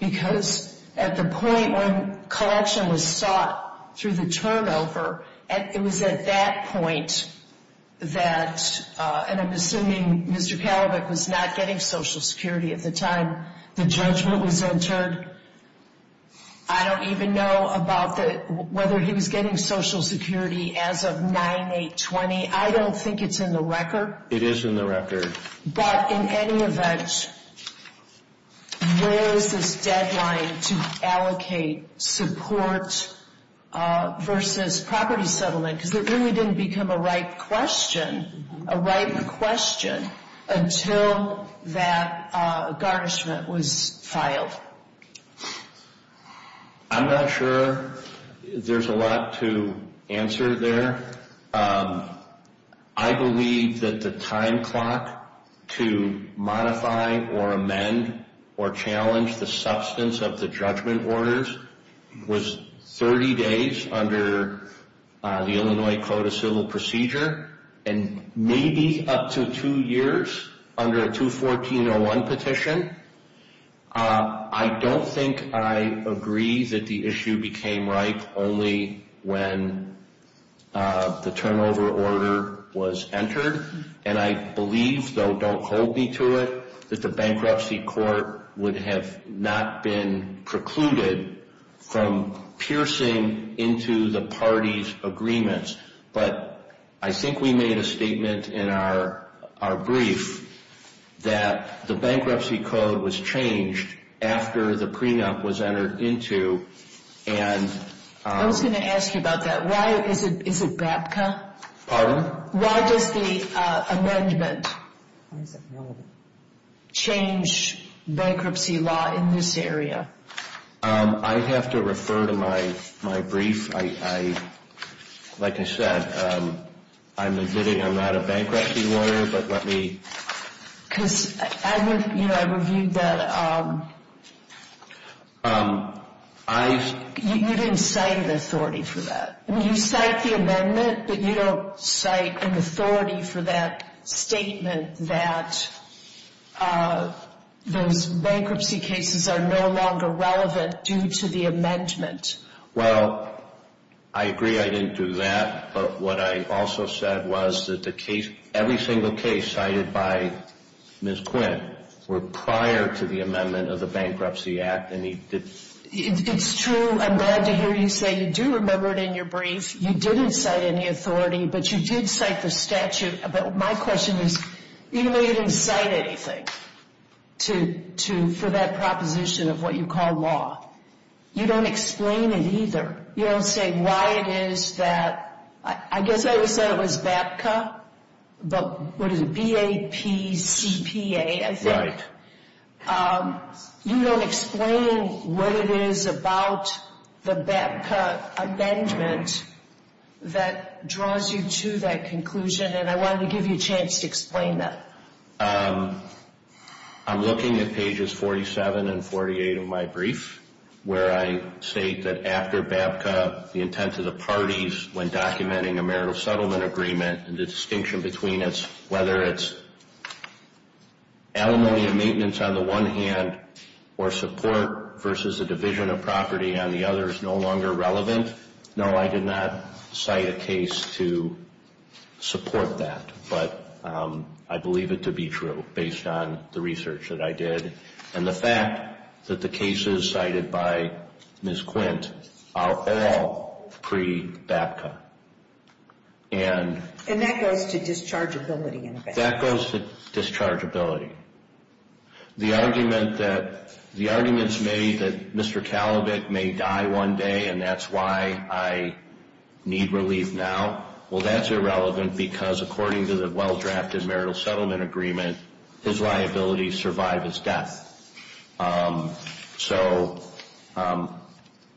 Because at the point when collection was sought through the turnover, it was at that point that... And I'm assuming Mr. Kalibok was not getting Social Security at the time the judgment was entered. I don't even know about whether he was getting Social Security as of 9-8-20. I don't think it's in the record. It is in the record. But in any event, where is the deadline to allocate support versus property settlement? Because it really didn't become a right question until that garnishment was filed. I'm not sure there's a lot to answer there. I believe that the time clock to modify or amend or challenge the substance of the judgment orders was 30 days under the Illinois Code of Civil Procedure and maybe up to two years under a 214-01 petition. I don't think I agree that the issue became right only when the turnover order was entered. And I believe, though don't hold me to it, that the Bankruptcy Court would have not been precluded from piercing into the parties' agreements. But I think we made a statement in our brief that the bankruptcy code was changed after the preempt was entered into. I was going to ask you about that. Why is it BAPCA? Pardon? Why does the amendment change bankruptcy law in this area? I'd have to refer to my brief. I'm admitting I'm not a bankruptcy lawyer, but let me... Because I reviewed that. You didn't cite an authority for that. You cite the amendment, but you don't cite an authority for that statement that those bankruptcy cases are no longer relevant due to the amendment. Well, I agree I didn't do that. But what I also said was that every single case cited by Ms. Quinn were prior to the amendment of the Bankruptcy Act. It's true. I'm glad to hear you say you do remember it in your brief. You didn't cite any authority, but you did cite the statute. But my question is, even though you didn't cite anything for that proposition of what you call law, you don't explain it either. You don't say why it is that... I guess I would say it was BAPCA, but what is it, B-A-P-C-P-A, I think. You don't explain what it is about the BAPCA amendment that draws you to that conclusion, and I wanted to give you a chance to explain that. I'm looking at pages 47 and 48 of my brief, where I say that after BAPCA, the intent of the parties when documenting a marital settlement agreement and the distinction between whether it's alimony and maintenance on the one hand or support versus a division of property on the other is no longer relevant. No, I did not cite a case to support that, but I believe it to be true based on the research that I did and the fact that the cases cited by Ms. Quint are all pre-BAPCA. And that goes to dischargeability, in fact. That goes to dischargeability. The argument that Mr. Talbot may die one day and that's why I need relief now, well, that's irrelevant because according to the well-drafted marital settlement agreement, his liability survived his death.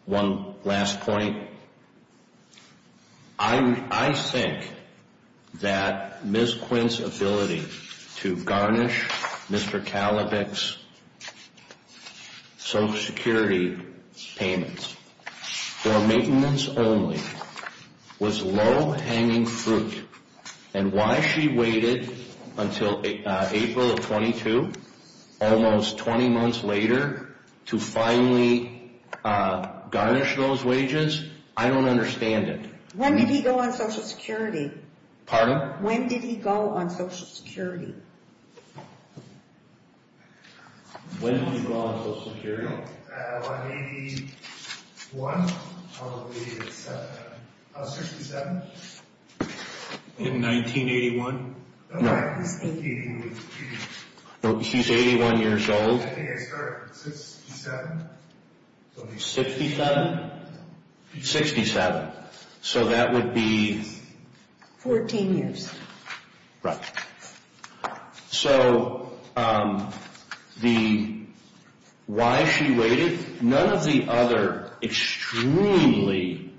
One last point. I think that Ms. Quint's ability to garnish Mr. Talbot's Social Security payments for maintenance only was low-hanging fruit, and why she waited until April of 22, almost 20 months later, to finally garnish those wages, I don't understand it. When did he go on Social Security? Pardon? When did he go on Social Security? When did he go on Social Security? In 1981? No. She's 81 years old. 67? 67. So that would be... 14 years. Right. So, why she waited, none of the other extremely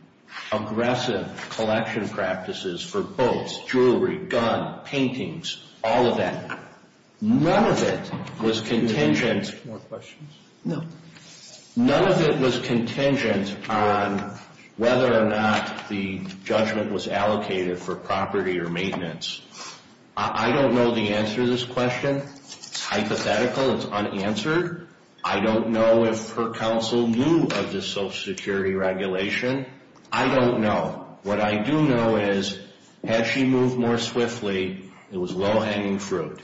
aggressive collection practices for books, jewelry, guns, paintings, all of that, none of it was contingent... No. None of it was contingent on whether or not the judgment was allocated for property or maintenance. I don't know the answer to this question. It's hypothetical. It's unanswered. I don't know if her counsel knew of this Social Security regulation. I don't know. What I do know is, had she moved more swiftly, it was low-hanging fruit.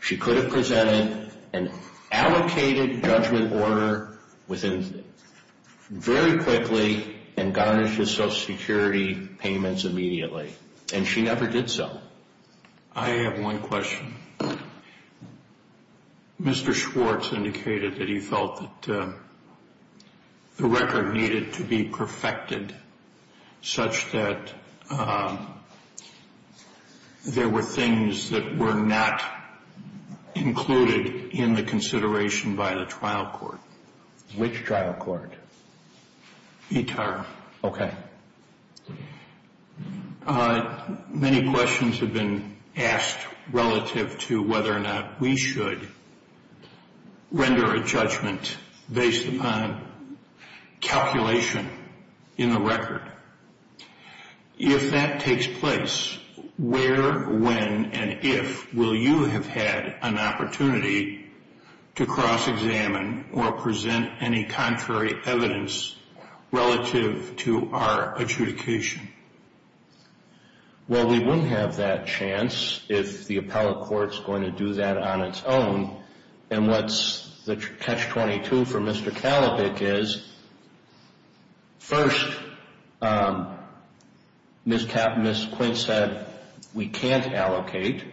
She could have presented an allocated judgment order very quickly and garnished the Social Security payments immediately. And she never did so. I have one question. Mr. Schwartz indicated that he felt that the record needed to be perfected such that there were things that were not included in the consideration by the trial court. Which trial court? ETAR. Okay. Many questions have been asked relative to whether or not we should render a judgment based upon calculation in the record. If that takes place, where, when, and if will you have had an opportunity to cross-examine or present any contrary evidence relative to our adjudication? Well, we wouldn't have that chance if the appellate court is going to do that on its own. And what's the catch-22 for Mr. Kalibik is, first, Ms. Quinn said, we can't allocate.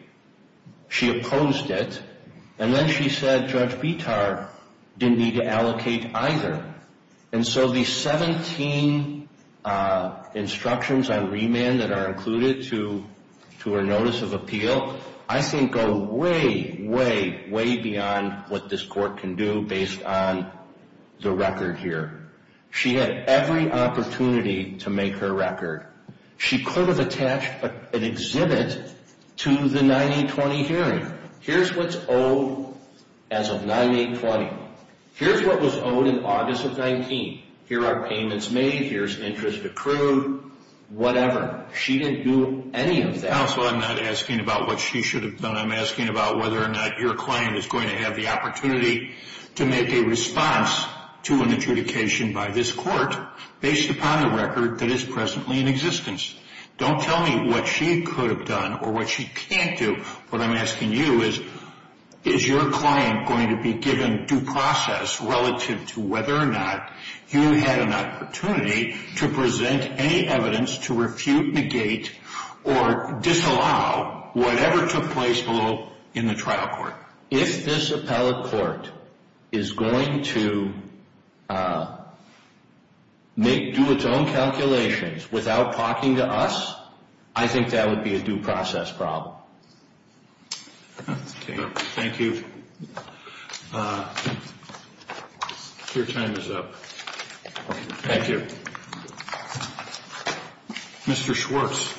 She opposed it. And then she said Judge Bitar didn't need to allocate either. And so these 17 instructions on remand that are included to her notice of appeal, I think go way, way, way beyond what this court can do based on the record here. She had every opportunity to make her record. She could have attached an exhibit to the 9820 hearing. Here's what's owed as of 9820. Here's what was owed in August of 19. Here are payments made. Here's interest accrued. Whatever. She didn't do any of that. Counsel, I'm not asking about what she should have done. I'm asking about whether or not your client is going to have the opportunity to make a response to an adjudication by this court based upon the record that is presently in existence. Don't tell me what she could have done or what she can't do. What I'm asking you is, is your client going to be given due process relative to whether or not you had an opportunity to present any evidence to refute, negate, or disallow whatever took place in the trial court? If this appellate court is going to do its own calculations without talking to us, I think that would be a due process problem. Thank you. Thank you. Your time is up. Thank you. Mr. Schwartz,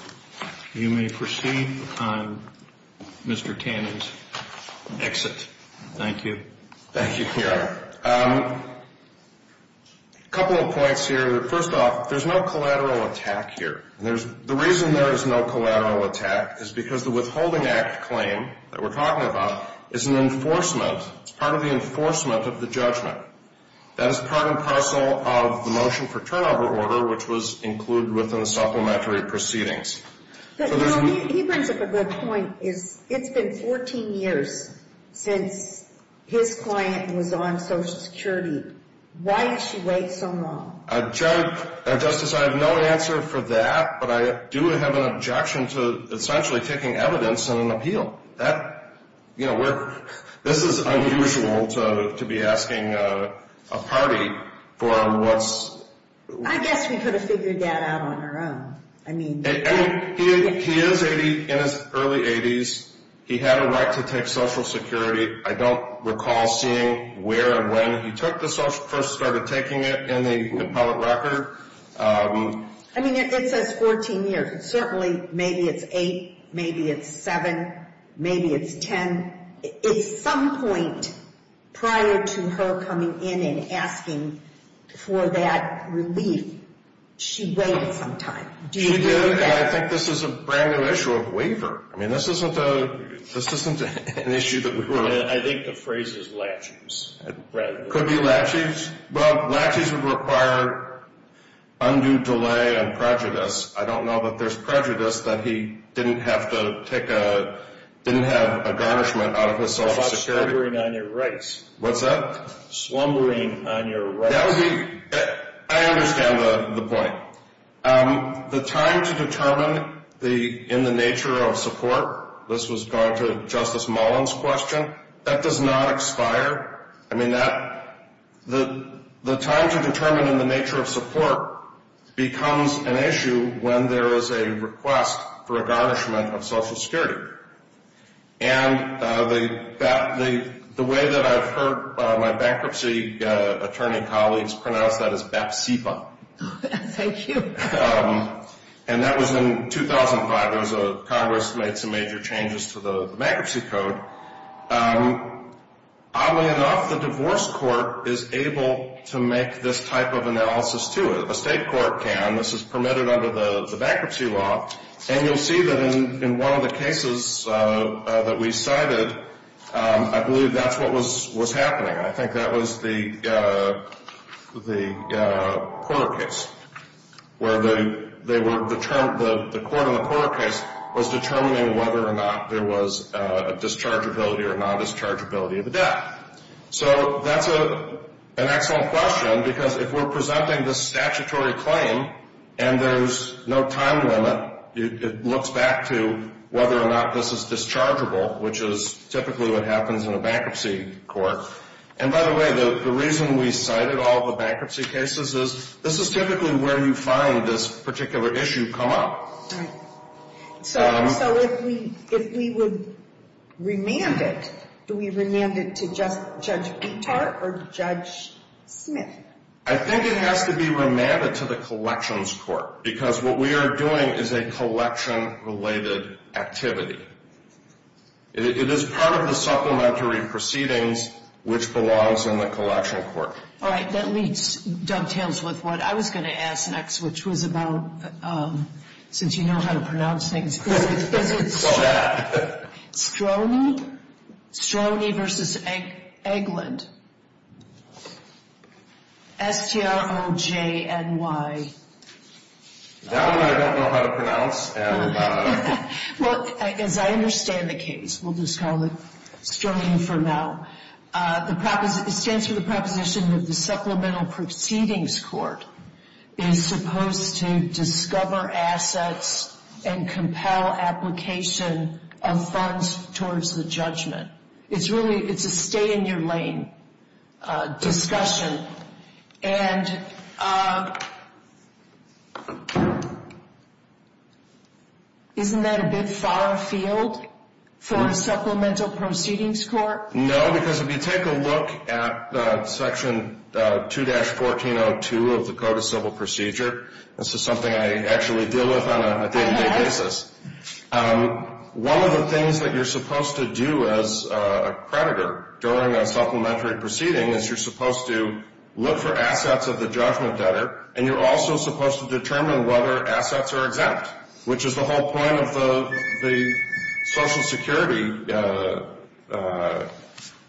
you may proceed on Mr. Tannen's exit. Thank you. Thank you, Clarence. A couple of points here. First off, there's no collateral attack here. The reason there is no collateral attack is because the Withholding Act claim that we're talking about is an enforcement. It's part of the enforcement of the judgment. That is part and parcel of the motion for turnover order, which was included within the supplementary proceedings. He brings up a good point. It's been 14 years since his client was on Social Security. Why did she wait so long? Justice, I have no answer for that, but I do have an objection to essentially taking evidence on an appeal. This is unusual to be asking a party for what's... I guess she could have figured that out on her own. He is in his early 80s. He had a right to take Social Security. I don't recall seeing where and when he first started taking it. I mean, it says 14 years. Certainly, maybe it's 8, maybe it's 7, maybe it's 10. At some point prior to her coming in and asking for that relief, she waited some time. I think this is a brand new issue of waiver. I mean, this isn't an issue that we're... I think the phrase is latches. Could be latches. Well, latches would require undue delay and prejudice. I don't know that there's prejudice that he didn't have to take a... didn't have a garnishment out of his Social Security. Slumbering on your rights. What's that? Slumbering on your rights. I understand the point. The time to determine in the nature of support, this was going to Justice Mullen's question, that does not expire. I mean, the time to determine in the nature of support becomes an issue when there is a request for a garnishment of Social Security. And the way that I've heard my bankruptcy attorney colleagues put out that is BATSEPA. Thank you. And that was in 2005. Congress made some major changes to the bankruptcy code. Oddly enough, the divorce court is able to make this type of analysis, too. A state court can. This is permitted under the bankruptcy law. And you'll see that in one of the cases that we cited, I believe that's what was happening. I think that was the Porter case, where they were determined... dischargeability or non-dischargeability of the debt. So that's an excellent question, because if we're presenting this statutory claim and there's no time limit, it looks back to whether or not this is dischargeable, which is typically what happens in a bankruptcy court. And by the way, the reason we cited all the bankruptcy cases is this is typically where you find this particular issue come up. So if we would remand it, do we remand it to Judge Pinkhart or Judge Smith? I think it has to be remanded to the collections court, because what we are doing is a collection-related activity. It is part of the supplementary proceedings, which belongs in the collection court. All right. That at least dovetails with what I was going to ask next, which was about, since you know how to pronounce things, Stroney v. Eggland. S-T-R-O-J-N-Y. Is that one I don't know how to pronounce? Well, as I understand the case, we'll just call it Stroney for now. It stands for the proposition that the supplemental proceedings court is supposed to discover assets and compel application of funds towards the judgment. It's really a stay-in-your-lane discussion. And isn't that a bit far afield for a supplemental proceedings court? No, because if you take a look at Section 2-1402 of the Code of Civil Procedure, this is something I actually deal with on a day-to-day basis, one of the things that you're supposed to do as a creditor during a supplementary proceeding is you're supposed to look for assets of the judgment debtor, and you're also supposed to determine whether assets are exempt, which is the whole point of the Social Security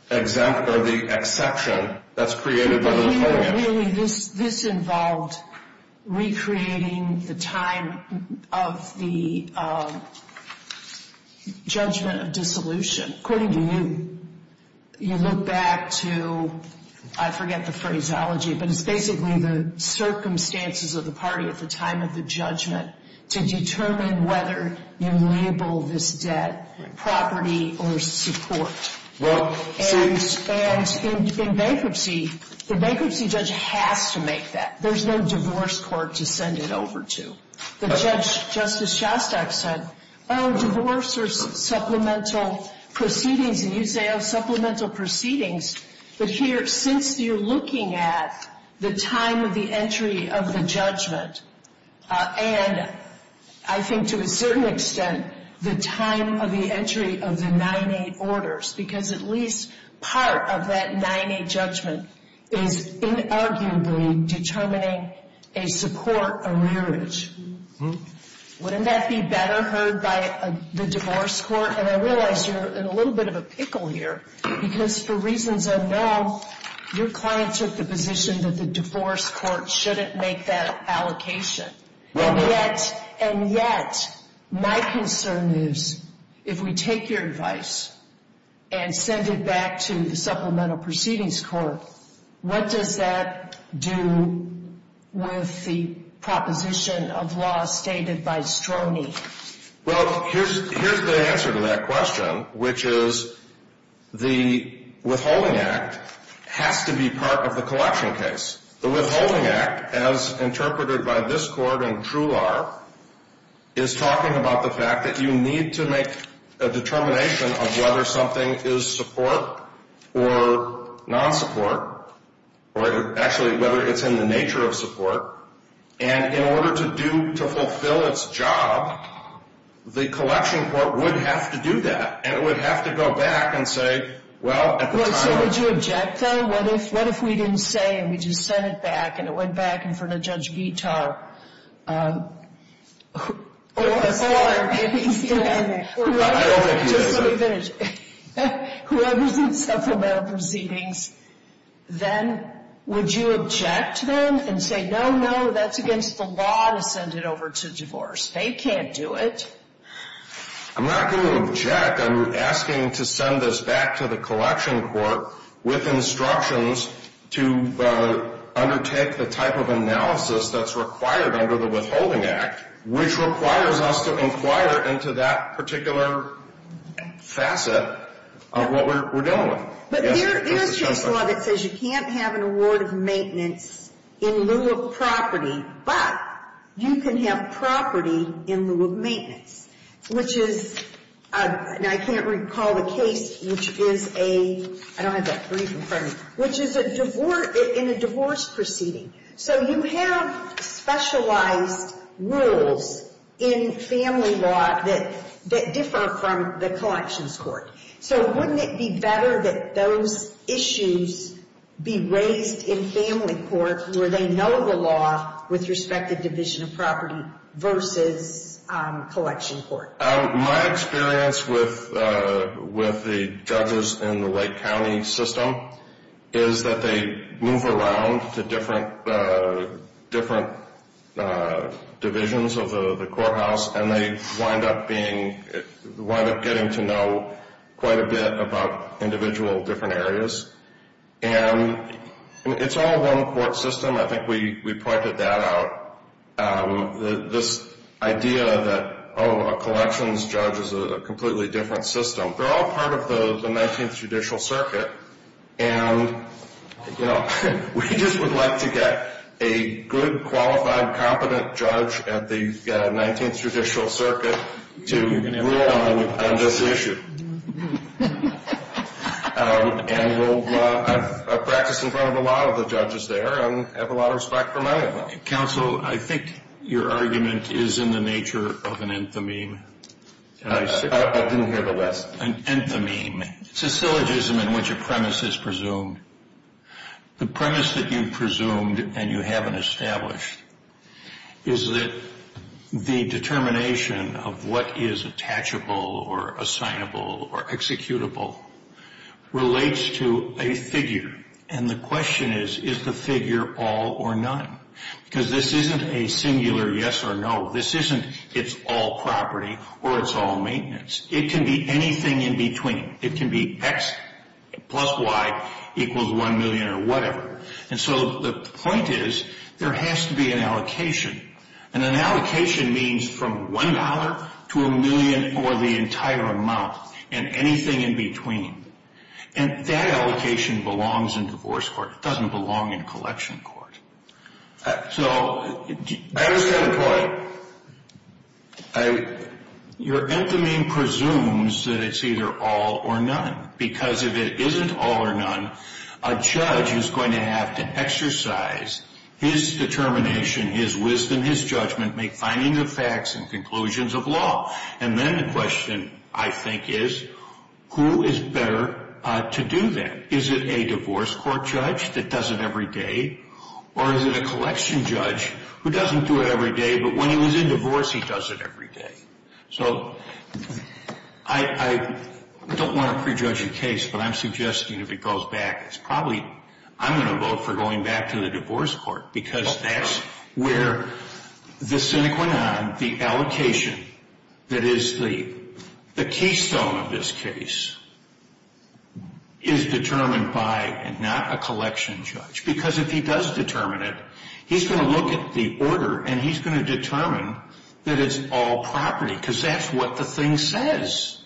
exempt or the exception that's created by those claims. This involves recreating the time of the judgment of dissolution. According to you, you look back to, I forget the phraseology, but it's basically the circumstances of the party at the time of the judgment to determine whether you label this debt property or support. And in bankruptcy, the bankruptcy judge has to make that. There's no divorce court to send it over to. Justice Shostak said, oh, divorce or supplemental proceedings, and you say, oh, supplemental proceedings. But here, since you're looking at the time of the entry of the judgment and I think to a certain extent the time of the entry of the 9-8 orders, because at least part of that 9-8 judgment is inarguably determining a support arrearage, wouldn't that be better heard by the divorce court? And I realize you're in a little bit of a pickle here because for reasons I know, your client took the position that the divorce court shouldn't make that allocation. And yet my concern is if we take your advice and send it back to the supplemental proceedings court, what does that do with the proposition of law stated by Stroney? Well, here's the answer to that question, which is the Withholding Act has to be part of the collection case. The Withholding Act, as interpreted by this court in Trular, is talking about the fact that you need to make a determination of whether something is support or non-support, or actually whether it's in the nature of support. And in order to fulfill its job, the collection court would have to do that. It would have to go back and say, well, at the time... Well, so would you object, then? What if we didn't say and we just sent it back and it went back in front of Judge Vitar? I don't think we would. Whoever's in the supplemental proceedings, then would you object to them and say, no, no, that's against the law to send it over to divorce? They can't do it. I'm not going to object. I'm asking to send this back to the collection court with instructions to undertake the type of analysis that's required under the Withholding Act, which requires us to inquire into that particular facet of what we're dealing with. But your case law that says you can't have an award of maintenance in lieu of property, but you can have property in lieu of maintenance, which is... I can't recall the case, which is a... I don't have that brief in front of me... which is in a divorce proceeding. So you have specialized rules in family law that differ from the collections court. So wouldn't it be better that those issues be raised in family courts where they know the law with respect to division of property versus collection court? My experience with the judges in the Lake County system is that they move around to different divisions of the courthouse, and they wind up getting to know quite a bit about individual different areas. And it's all one court system. I think we pointed that out, this idea that, oh, a collections judge is a completely different system. They're all part of the 19th Judicial Circuit. And, well, we just would like to get a good, qualified, competent judge at the 19th Judicial Circuit to rule on this issue. And we'll practice in front of a lot of the judges there and have a lot of respect for my opinion. Counsel, I think your argument is in the nature of an infamy. I didn't hear the rest. An infamy, it's a syllogism in which a premise is presumed. The premise that you've presumed and you haven't established is that the determination of what is attachable or assignable or executable relates to a figure. And the question is, is the figure all or none? Because this isn't a singular yes or no. This isn't it's all property or it's all maintenance. It can be anything in between. It can be X plus Y equals 1 million or whatever. And so the point is, there has to be an allocation. And an allocation means from $1 to a million or the entire amount and anything in between. And that allocation belongs in divorce court. It doesn't belong in collection court. So that was my point. Your opinion presumes that it's either all or none because if it isn't all or none, a judge is going to have to exercise his determination, his wisdom, his judgment, make findings of facts and conclusions of law. And then the question, I think, is who is better to do that? Is it a divorce court judge that does it every day? Or is it a collection judge who doesn't do it every day but when he was in divorce, he does it every day? So I don't want to prejudge a case, but I'm suggesting if he goes back, it's probably I'm going to vote for going back to the divorce court because that's where the The allocation that is the keystone of this case is determined by not a collection judge. Because if he does determine it, he's going to look at the order and he's going to determine that it's all property because that's what the thing says.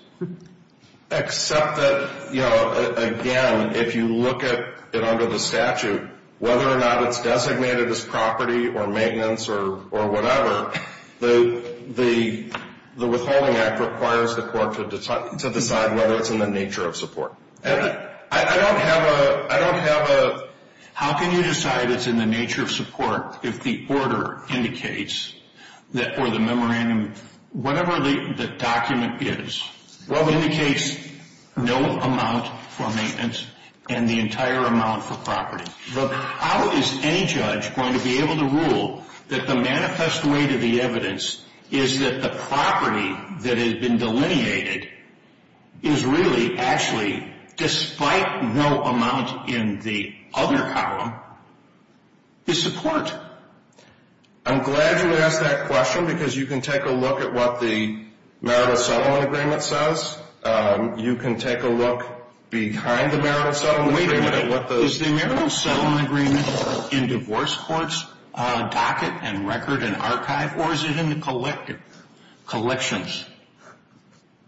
Except that, you know, again, if you look at it under the statute, whether or not it's designated as property or maintenance or whatever, the withholding act requires the court to decide whether it's in the nature of support. I don't have a How can you decide it's in the nature of support if the order indicates or the memorandum, whatever the document is, what indicates no amount for maintenance and the entire amount for property? But how is any judge going to be able to rule that the manifest way to the evidence is that the property that has been delineated is really actually, despite no amount in the other column, is support? I'm glad you asked that question because you can take a look at what the Merit of Settlement Agreement says. You can take a look behind the Merit of Settlement Agreement. Is the Merit of Settlement Agreement in divorce courts on a docket and record and archive or is it in the collections?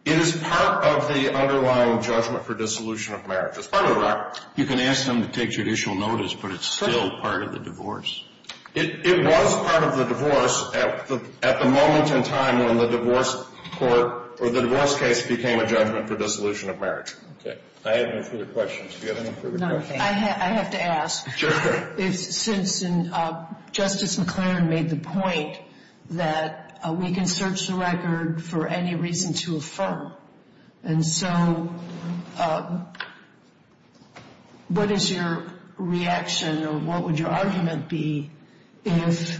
It is part of the underlying judgment for dissolution of merit. You can ask them to take judicial notice, but it's still part of the divorce. It was part of the divorce at the moment in time when the divorce court or the divorce case became a judgment for dissolution of merit. I have no further questions. Do you have any further questions? I have to ask. Sure, go ahead. Since Justice McClaren made the point that we can search the record for any reason to affirm, and so what is your reaction or what would your argument be if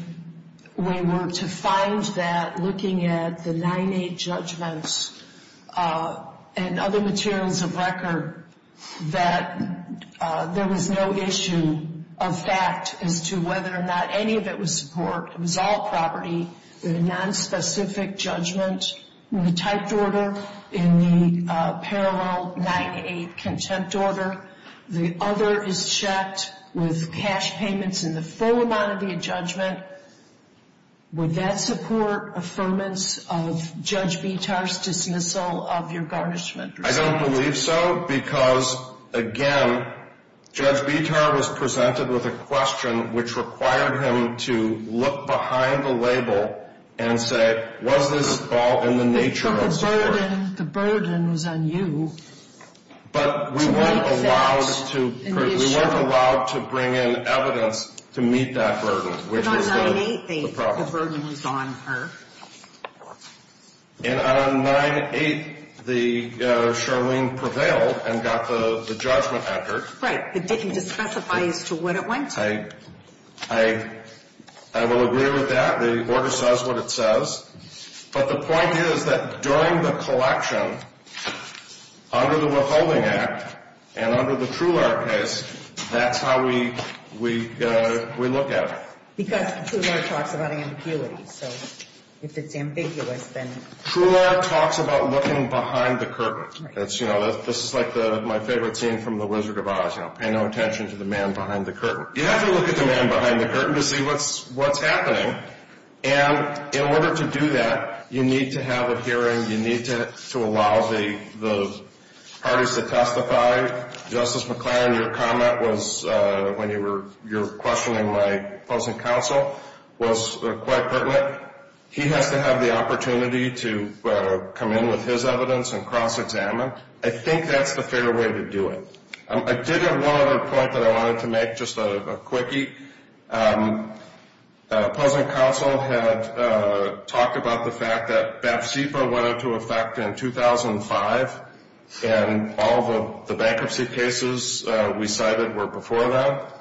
we were to find that looking at the 9-8 judgments and other materials of record that there was no issue of fact as to whether or not any of it was support, result property in a nonspecific judgment in the typed order, in the parallel 9-8 contempt order, the other is checked with cash payments in the full amount of your judgment, would that support affirmance of Judge Bitar's dismissal of your garnishment? I don't believe so because, again, Judge Bitar was presented with a question which required him to look behind the label and say was this at all in the nature of support. The burden was on you. But we weren't allowed to bring in evidence to meet that burden. But on 9-8 the burden was on her. And on 9-8 Charlene prevailed and got the judgment record. Right. It didn't specify what it was. I will agree with that. The order says what it says. But the point is that during the collection, under the withholding act and under the Trular case, that's how we looked at it. Because Trular talks about ambiguity. So if it's ambiguous, then. Trular talks about looking behind the curtains. This is like my favorite scene from The Wizard of Oz. Pay no attention to the man behind the curtain. You have to look at the man behind the curtain to see what's happening. And in order to do that, you need to have a hearing, you need to allow those parties to testify. Justice McClain, your comment was, when you were questioning my closing counsel, was quite pertinent. He had to have the opportunity to come in with his evidence and cross-examine. I think that's the fair way to do it. I did have one other point that I wanted to make, just a quickie. Closing counsel had talked about the fact that BAPCFA went into effect in 2005, and all the bankruptcy cases we cited were before that.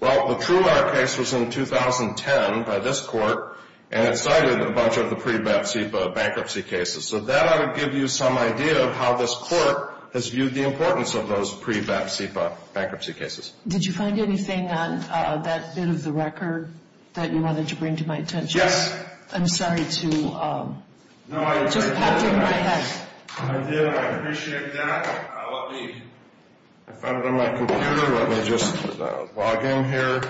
Well, the Trular case was in 2010 by this court, and it cited a bunch of the pre-BAPCFA bankruptcy cases. So that ought to give you some idea of how this court has viewed the importance of those pre-BAPCFA bankruptcy cases. Did you find anything on that bit of the record that you wanted to bring to my attention? Yes. I'm sorry to interrupt you like that. I did. I appreciate that. Let me find it on my computer. Let me just log in here.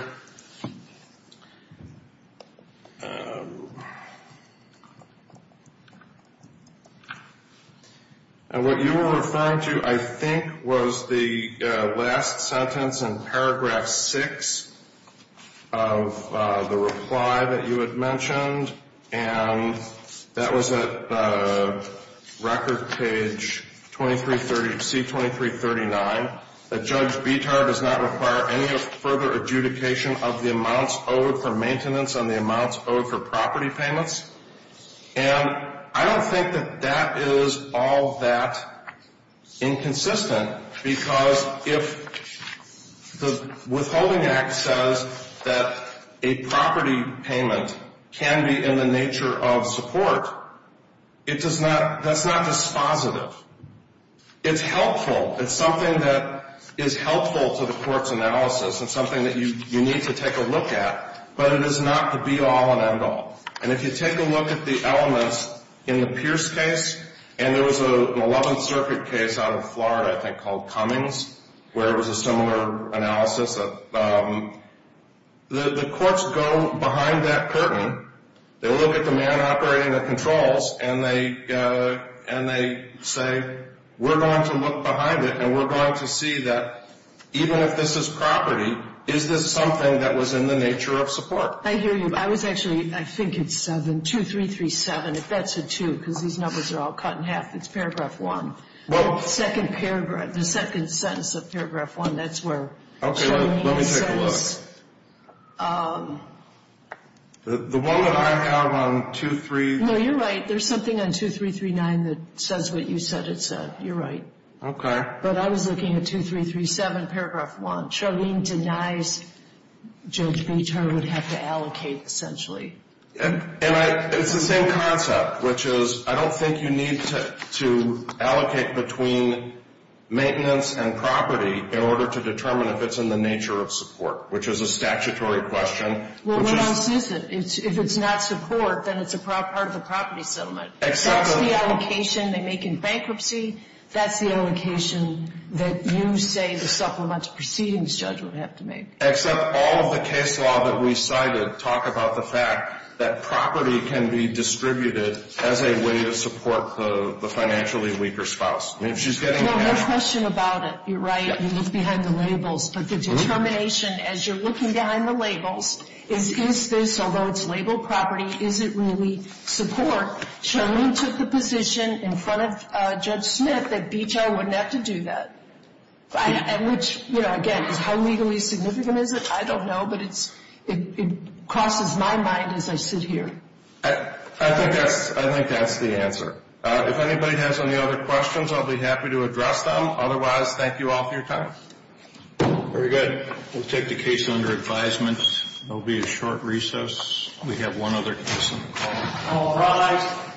What you were referring to, I think, was the last sentence in Paragraph 6 of the reply that you had mentioned, and that was at record page C-2339, that Judge Bitar does not require any further adjudication of the amounts owed for maintenance on the amounts owed for property payments. And I don't think that that is all that inconsistent, because if the Withholding Act says that a property payment can be in the nature of support, that's not dispositive. It's helpful. It's something that is helpful to the court's analysis. It's something that you need to take a look at, but it is not the be-all and end-all. And if you take a look at the elements in the Pierce case, and there was an 11th Circuit case out of Florida, I think, called Cummings, where it was a similar analysis. The courts go behind that curtain. They look at the man operating the controls, and they say, we're going to look behind it, and we're going to see that even if this is property, is this something that was in the nature of support? I hear you. I think it's 2337. If that's a two, because these numbers are all cut in half, it's paragraph one. The second paragraph, the second sentence of paragraph one, that's where... Okay, let me take a look. The one that I have on 23... No, you're right. There's something on 2339 that says what you said it said. You're right. Okay. But I was looking at 2337, paragraph one. Charlene denies Jones v. Turner would have to allocate, essentially. And it's the same concept, which is I don't think you need to allocate between maintenance and property in order to determine if it's in the nature of support, which is a statutory question. Well, what else is it? If it's not support, then it's a part of the property settlement. Exactly. That's the allocation they make in bankruptcy. That's the allocation that you say the supplemental proceedings judge would have to make. Except all of the case law that we cited talk about the fact that property can be distributed as a way to support the financially weaker spouse. If she's getting... Well, my question about it, you're right, you look behind the labels. But the determination as you're looking behind the labels is is this, although it's labeled property, is it really support? Charlene took the position in front of Judge Smith that BHI wouldn't have to do that. Which, again, how legally significant is it? I don't know, but it crosses my mind as I sit here. I think that's the answer. If anybody has any other questions, I'll be happy to address them. Otherwise, thank you all for your time. Very good. We'll take the case under advisement. It will be a short recess. We have one other case on the call. All rise.